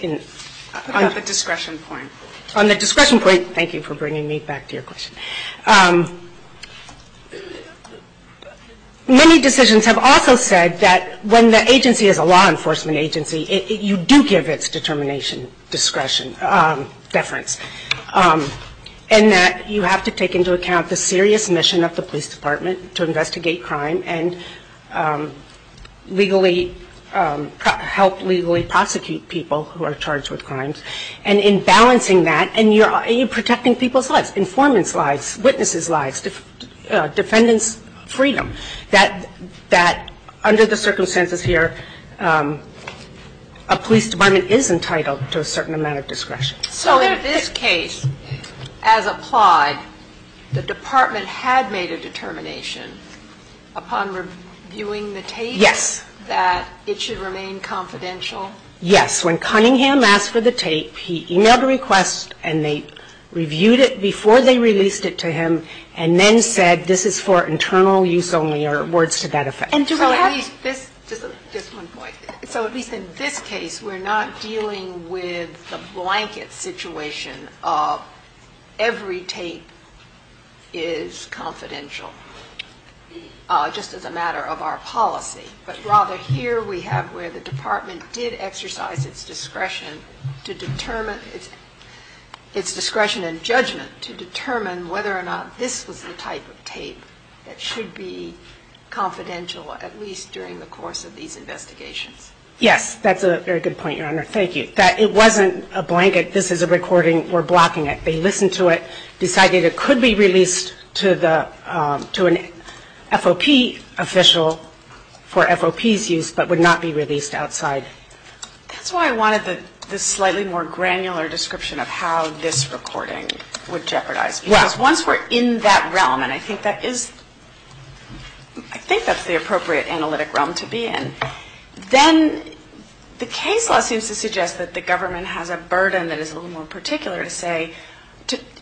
the discretion point. On the discretion point, thank you for bringing me back to your question. Many decisions have also said that when the agency is a law enforcement agency, you do give its determination discretion, deference, and that you have to take into account the serious mission of the police department to investigate crime and help legally prosecute people who are charged with crimes. And in balancing that, and you're protecting people's lives, informants' lives, witnesses' lives, defendants' freedom, that under the circumstances here, a police department is entitled to a certain amount of discretion. So in this case, as applied, the department had made a determination upon reviewing the tape that it should remain confidential? Yes. When Cunningham asked for the tape, he emailed the request, and they reviewed it before they released it to him, and then said this is for internal use only or words to that effect. So at least in this case, we're not dealing with the blanket situation of every tape is confidential, just as a matter of our policy. But rather, here we have where the department did exercise its discretion to determine its discretion and judgment to determine whether or not this was the type of tape that should be confidential, at least during the course of these investigations. Yes, that's a very good point, Your Honor. Thank you. That it wasn't a blanket, this is a recording, we're blocking it. They listened to it, decided it could be released to an FOP official for FOP's use, but would not be released outside. That's why I wanted this slightly more granular description of how this recording was jeopardized. Because once we're in that realm, and I think that's the appropriate analytic realm to be in, then the case law seems to suggest that the government has a burden that is a little more particular to say,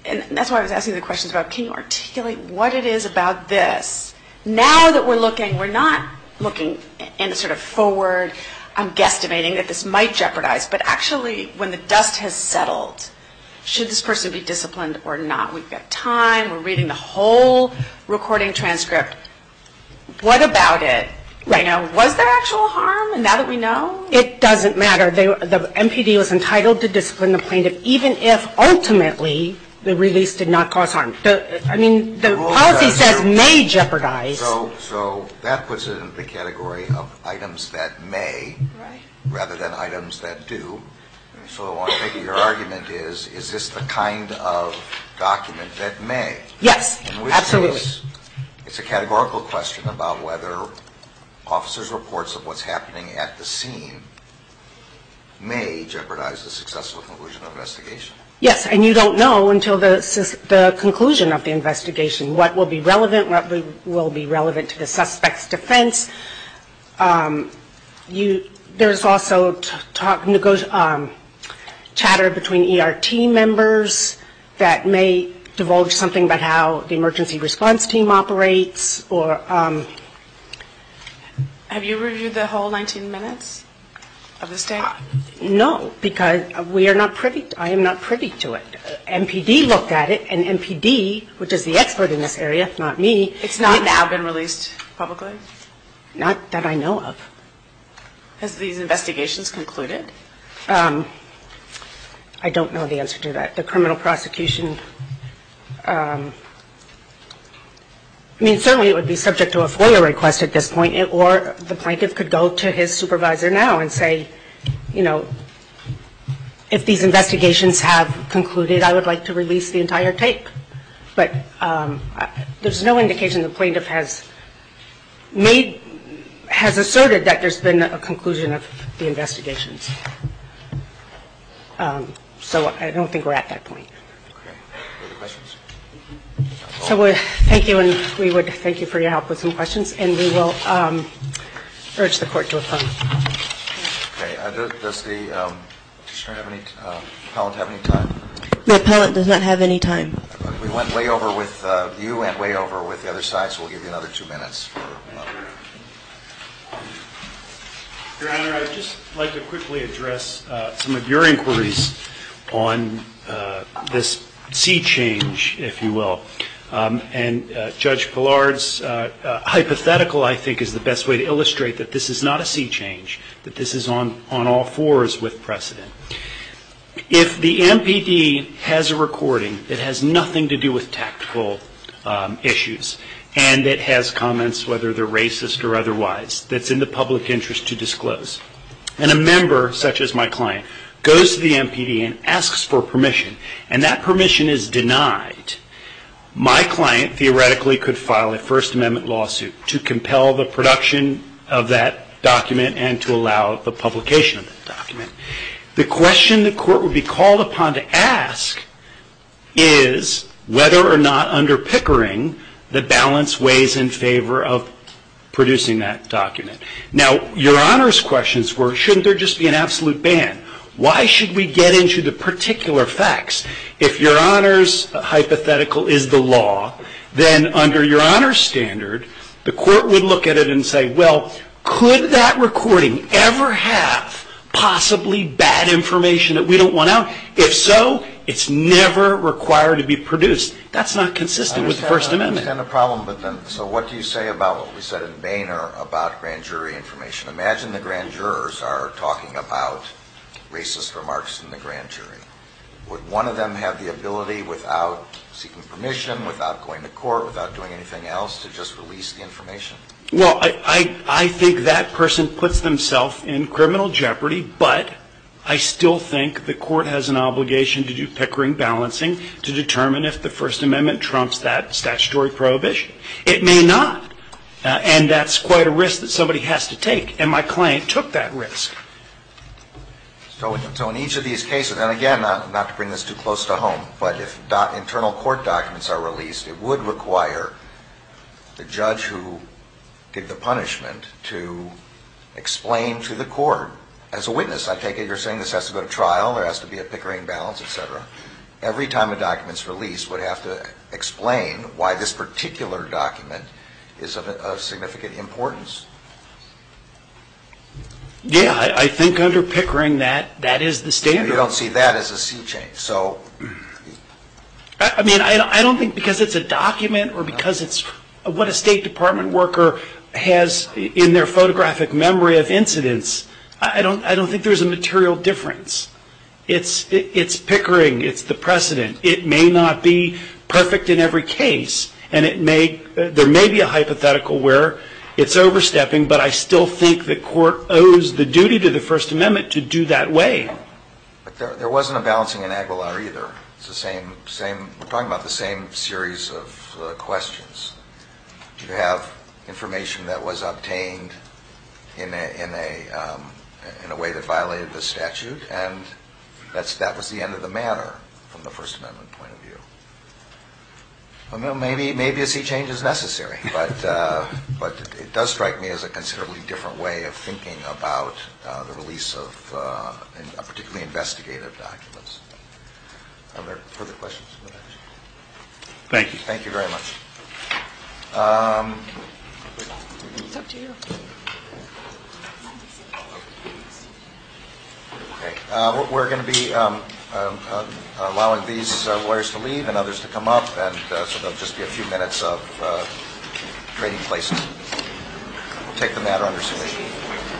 and that's why I was asking the question about can you articulate what it is about this. Now that we're looking, we're not looking in a sort of forward, I'm guesstimating that this might jeopardize, but actually when the dust has settled, should this person be disciplined or not? We've got time, we're reading the whole recording transcript, what about it? Was there actual harm? And now that we know? It doesn't matter. The MPD was entitled to discipline the plaintiff even if ultimately the release did not cause harm. So, I mean, the policy said may jeopardize. So that puts it in the category of items that may rather than items that do. So I'm thinking your argument is, is this the kind of document that may? Yes, absolutely. It's a categorical question about whether officers' reports of what's happening at the scene may jeopardize the successful conclusion of an investigation. Yes, and you don't know until the conclusion of the investigation what will be relevant, what will be relevant to the suspect's defense. There's also chatter between ERT members that may divulge something about how the emergency response team operates. Have you reviewed the whole 19 minutes of the statement? No, because I am not privy to it. MPD looked at it, and MPD, which is the expert in this area, it's not me. It's not now been released publicly? Not that I know of. Has the investigation concluded? I don't know the answer to that. The criminal prosecution, I mean, certainly it would be subject to a FOIA request at this point, or the plaintiff could go to his supervisor now and say, you know, if these investigations have concluded, I would like to release the entire tape. But there's no indication the plaintiff has asserted that there's been a conclusion of the investigation. So I don't think we're at that point. Okay. Any questions? Thank you, and we would thank you for your help with some questions, and we will urge the court to respond. Okay. Does the plaintiff have any time? The appellant does not have any time. You went way over with the other side, so we'll give you another two minutes. Your Honor, I would just like to quickly address some of your inquiries on this sea change, if you will. And Judge Gillard's hypothetical, I think, is the best way to illustrate that this is not a sea change, that this is on all fours with precedent. If the MPD has a recording that has nothing to do with tactical issues, and it has comments, whether they're racist or otherwise, that's in the public interest to disclose, and a member, such as my client, goes to the MPD and asks for permission, and that permission is denied, my client theoretically could file a First Amendment lawsuit to compel the production of that document and to allow the publication of that document. The question the court would be called upon to ask is whether or not, under Pickering, the balance weighs in favor of producing that document. Now, Your Honor's questions were, shouldn't there just be an absolute ban? Why should we get into the particular facts? If Your Honor's hypothetical is the law, then under Your Honor's standard, the court would look at it and say, well, could that recording ever have possibly bad information that we don't want out? If so, it's never required to be produced. That's not consistent with the First Amendment. I understand the problem, but then, so what do you say about what we said at Boehner about grand jury information? Imagine the grand jurors are talking about racist remarks in the grand jury. Would one of them have the ability, without seeking permission, without going to court, without doing anything else, to just release the information? Well, I think that person puts themselves in criminal jeopardy, but I still think the court has an obligation to do Pickering balancing to determine if the First Amendment trumps that statutory prohibition. It may not, and that's quite a risk that somebody has to take, and my client took that risk. So in each of these cases, and again, not to bring this too close to home, but if internal court documents are released, it would require the judge who did the punishment to explain to the court as a witness. I take it you're saying this has to go to trial, there has to be a Pickering balance, et cetera. Every time a document's released, we'd have to explain why this particular document is of significant importance. Yeah, I think under Pickering, that is the standard. I don't see that as a sea change. I don't think because it's a document or because it's what a State Department worker has in their photographic memory of incidents, I don't think there's a material difference. It's Pickering, it's the precedent. It may not be perfect in every case, and there may be a hypothetical where it's overstepping, but I still think the court owes the duty to the First Amendment to do that way. There wasn't a balancing in Aguilar either. It's the same series of questions. You have information that was obtained in a way that violated the statute, and that was the end of the matter from the First Amendment point of view. Well, maybe a sea change is necessary, but it does strike me as a considerably different way of thinking about the release of a particularly investigative document. Are there further questions? Thank you. Thank you very much. We're going to be allowing these lawyers to leave and others to come up, and so there will just be a few minutes of trading places. We'll take them out on their stay.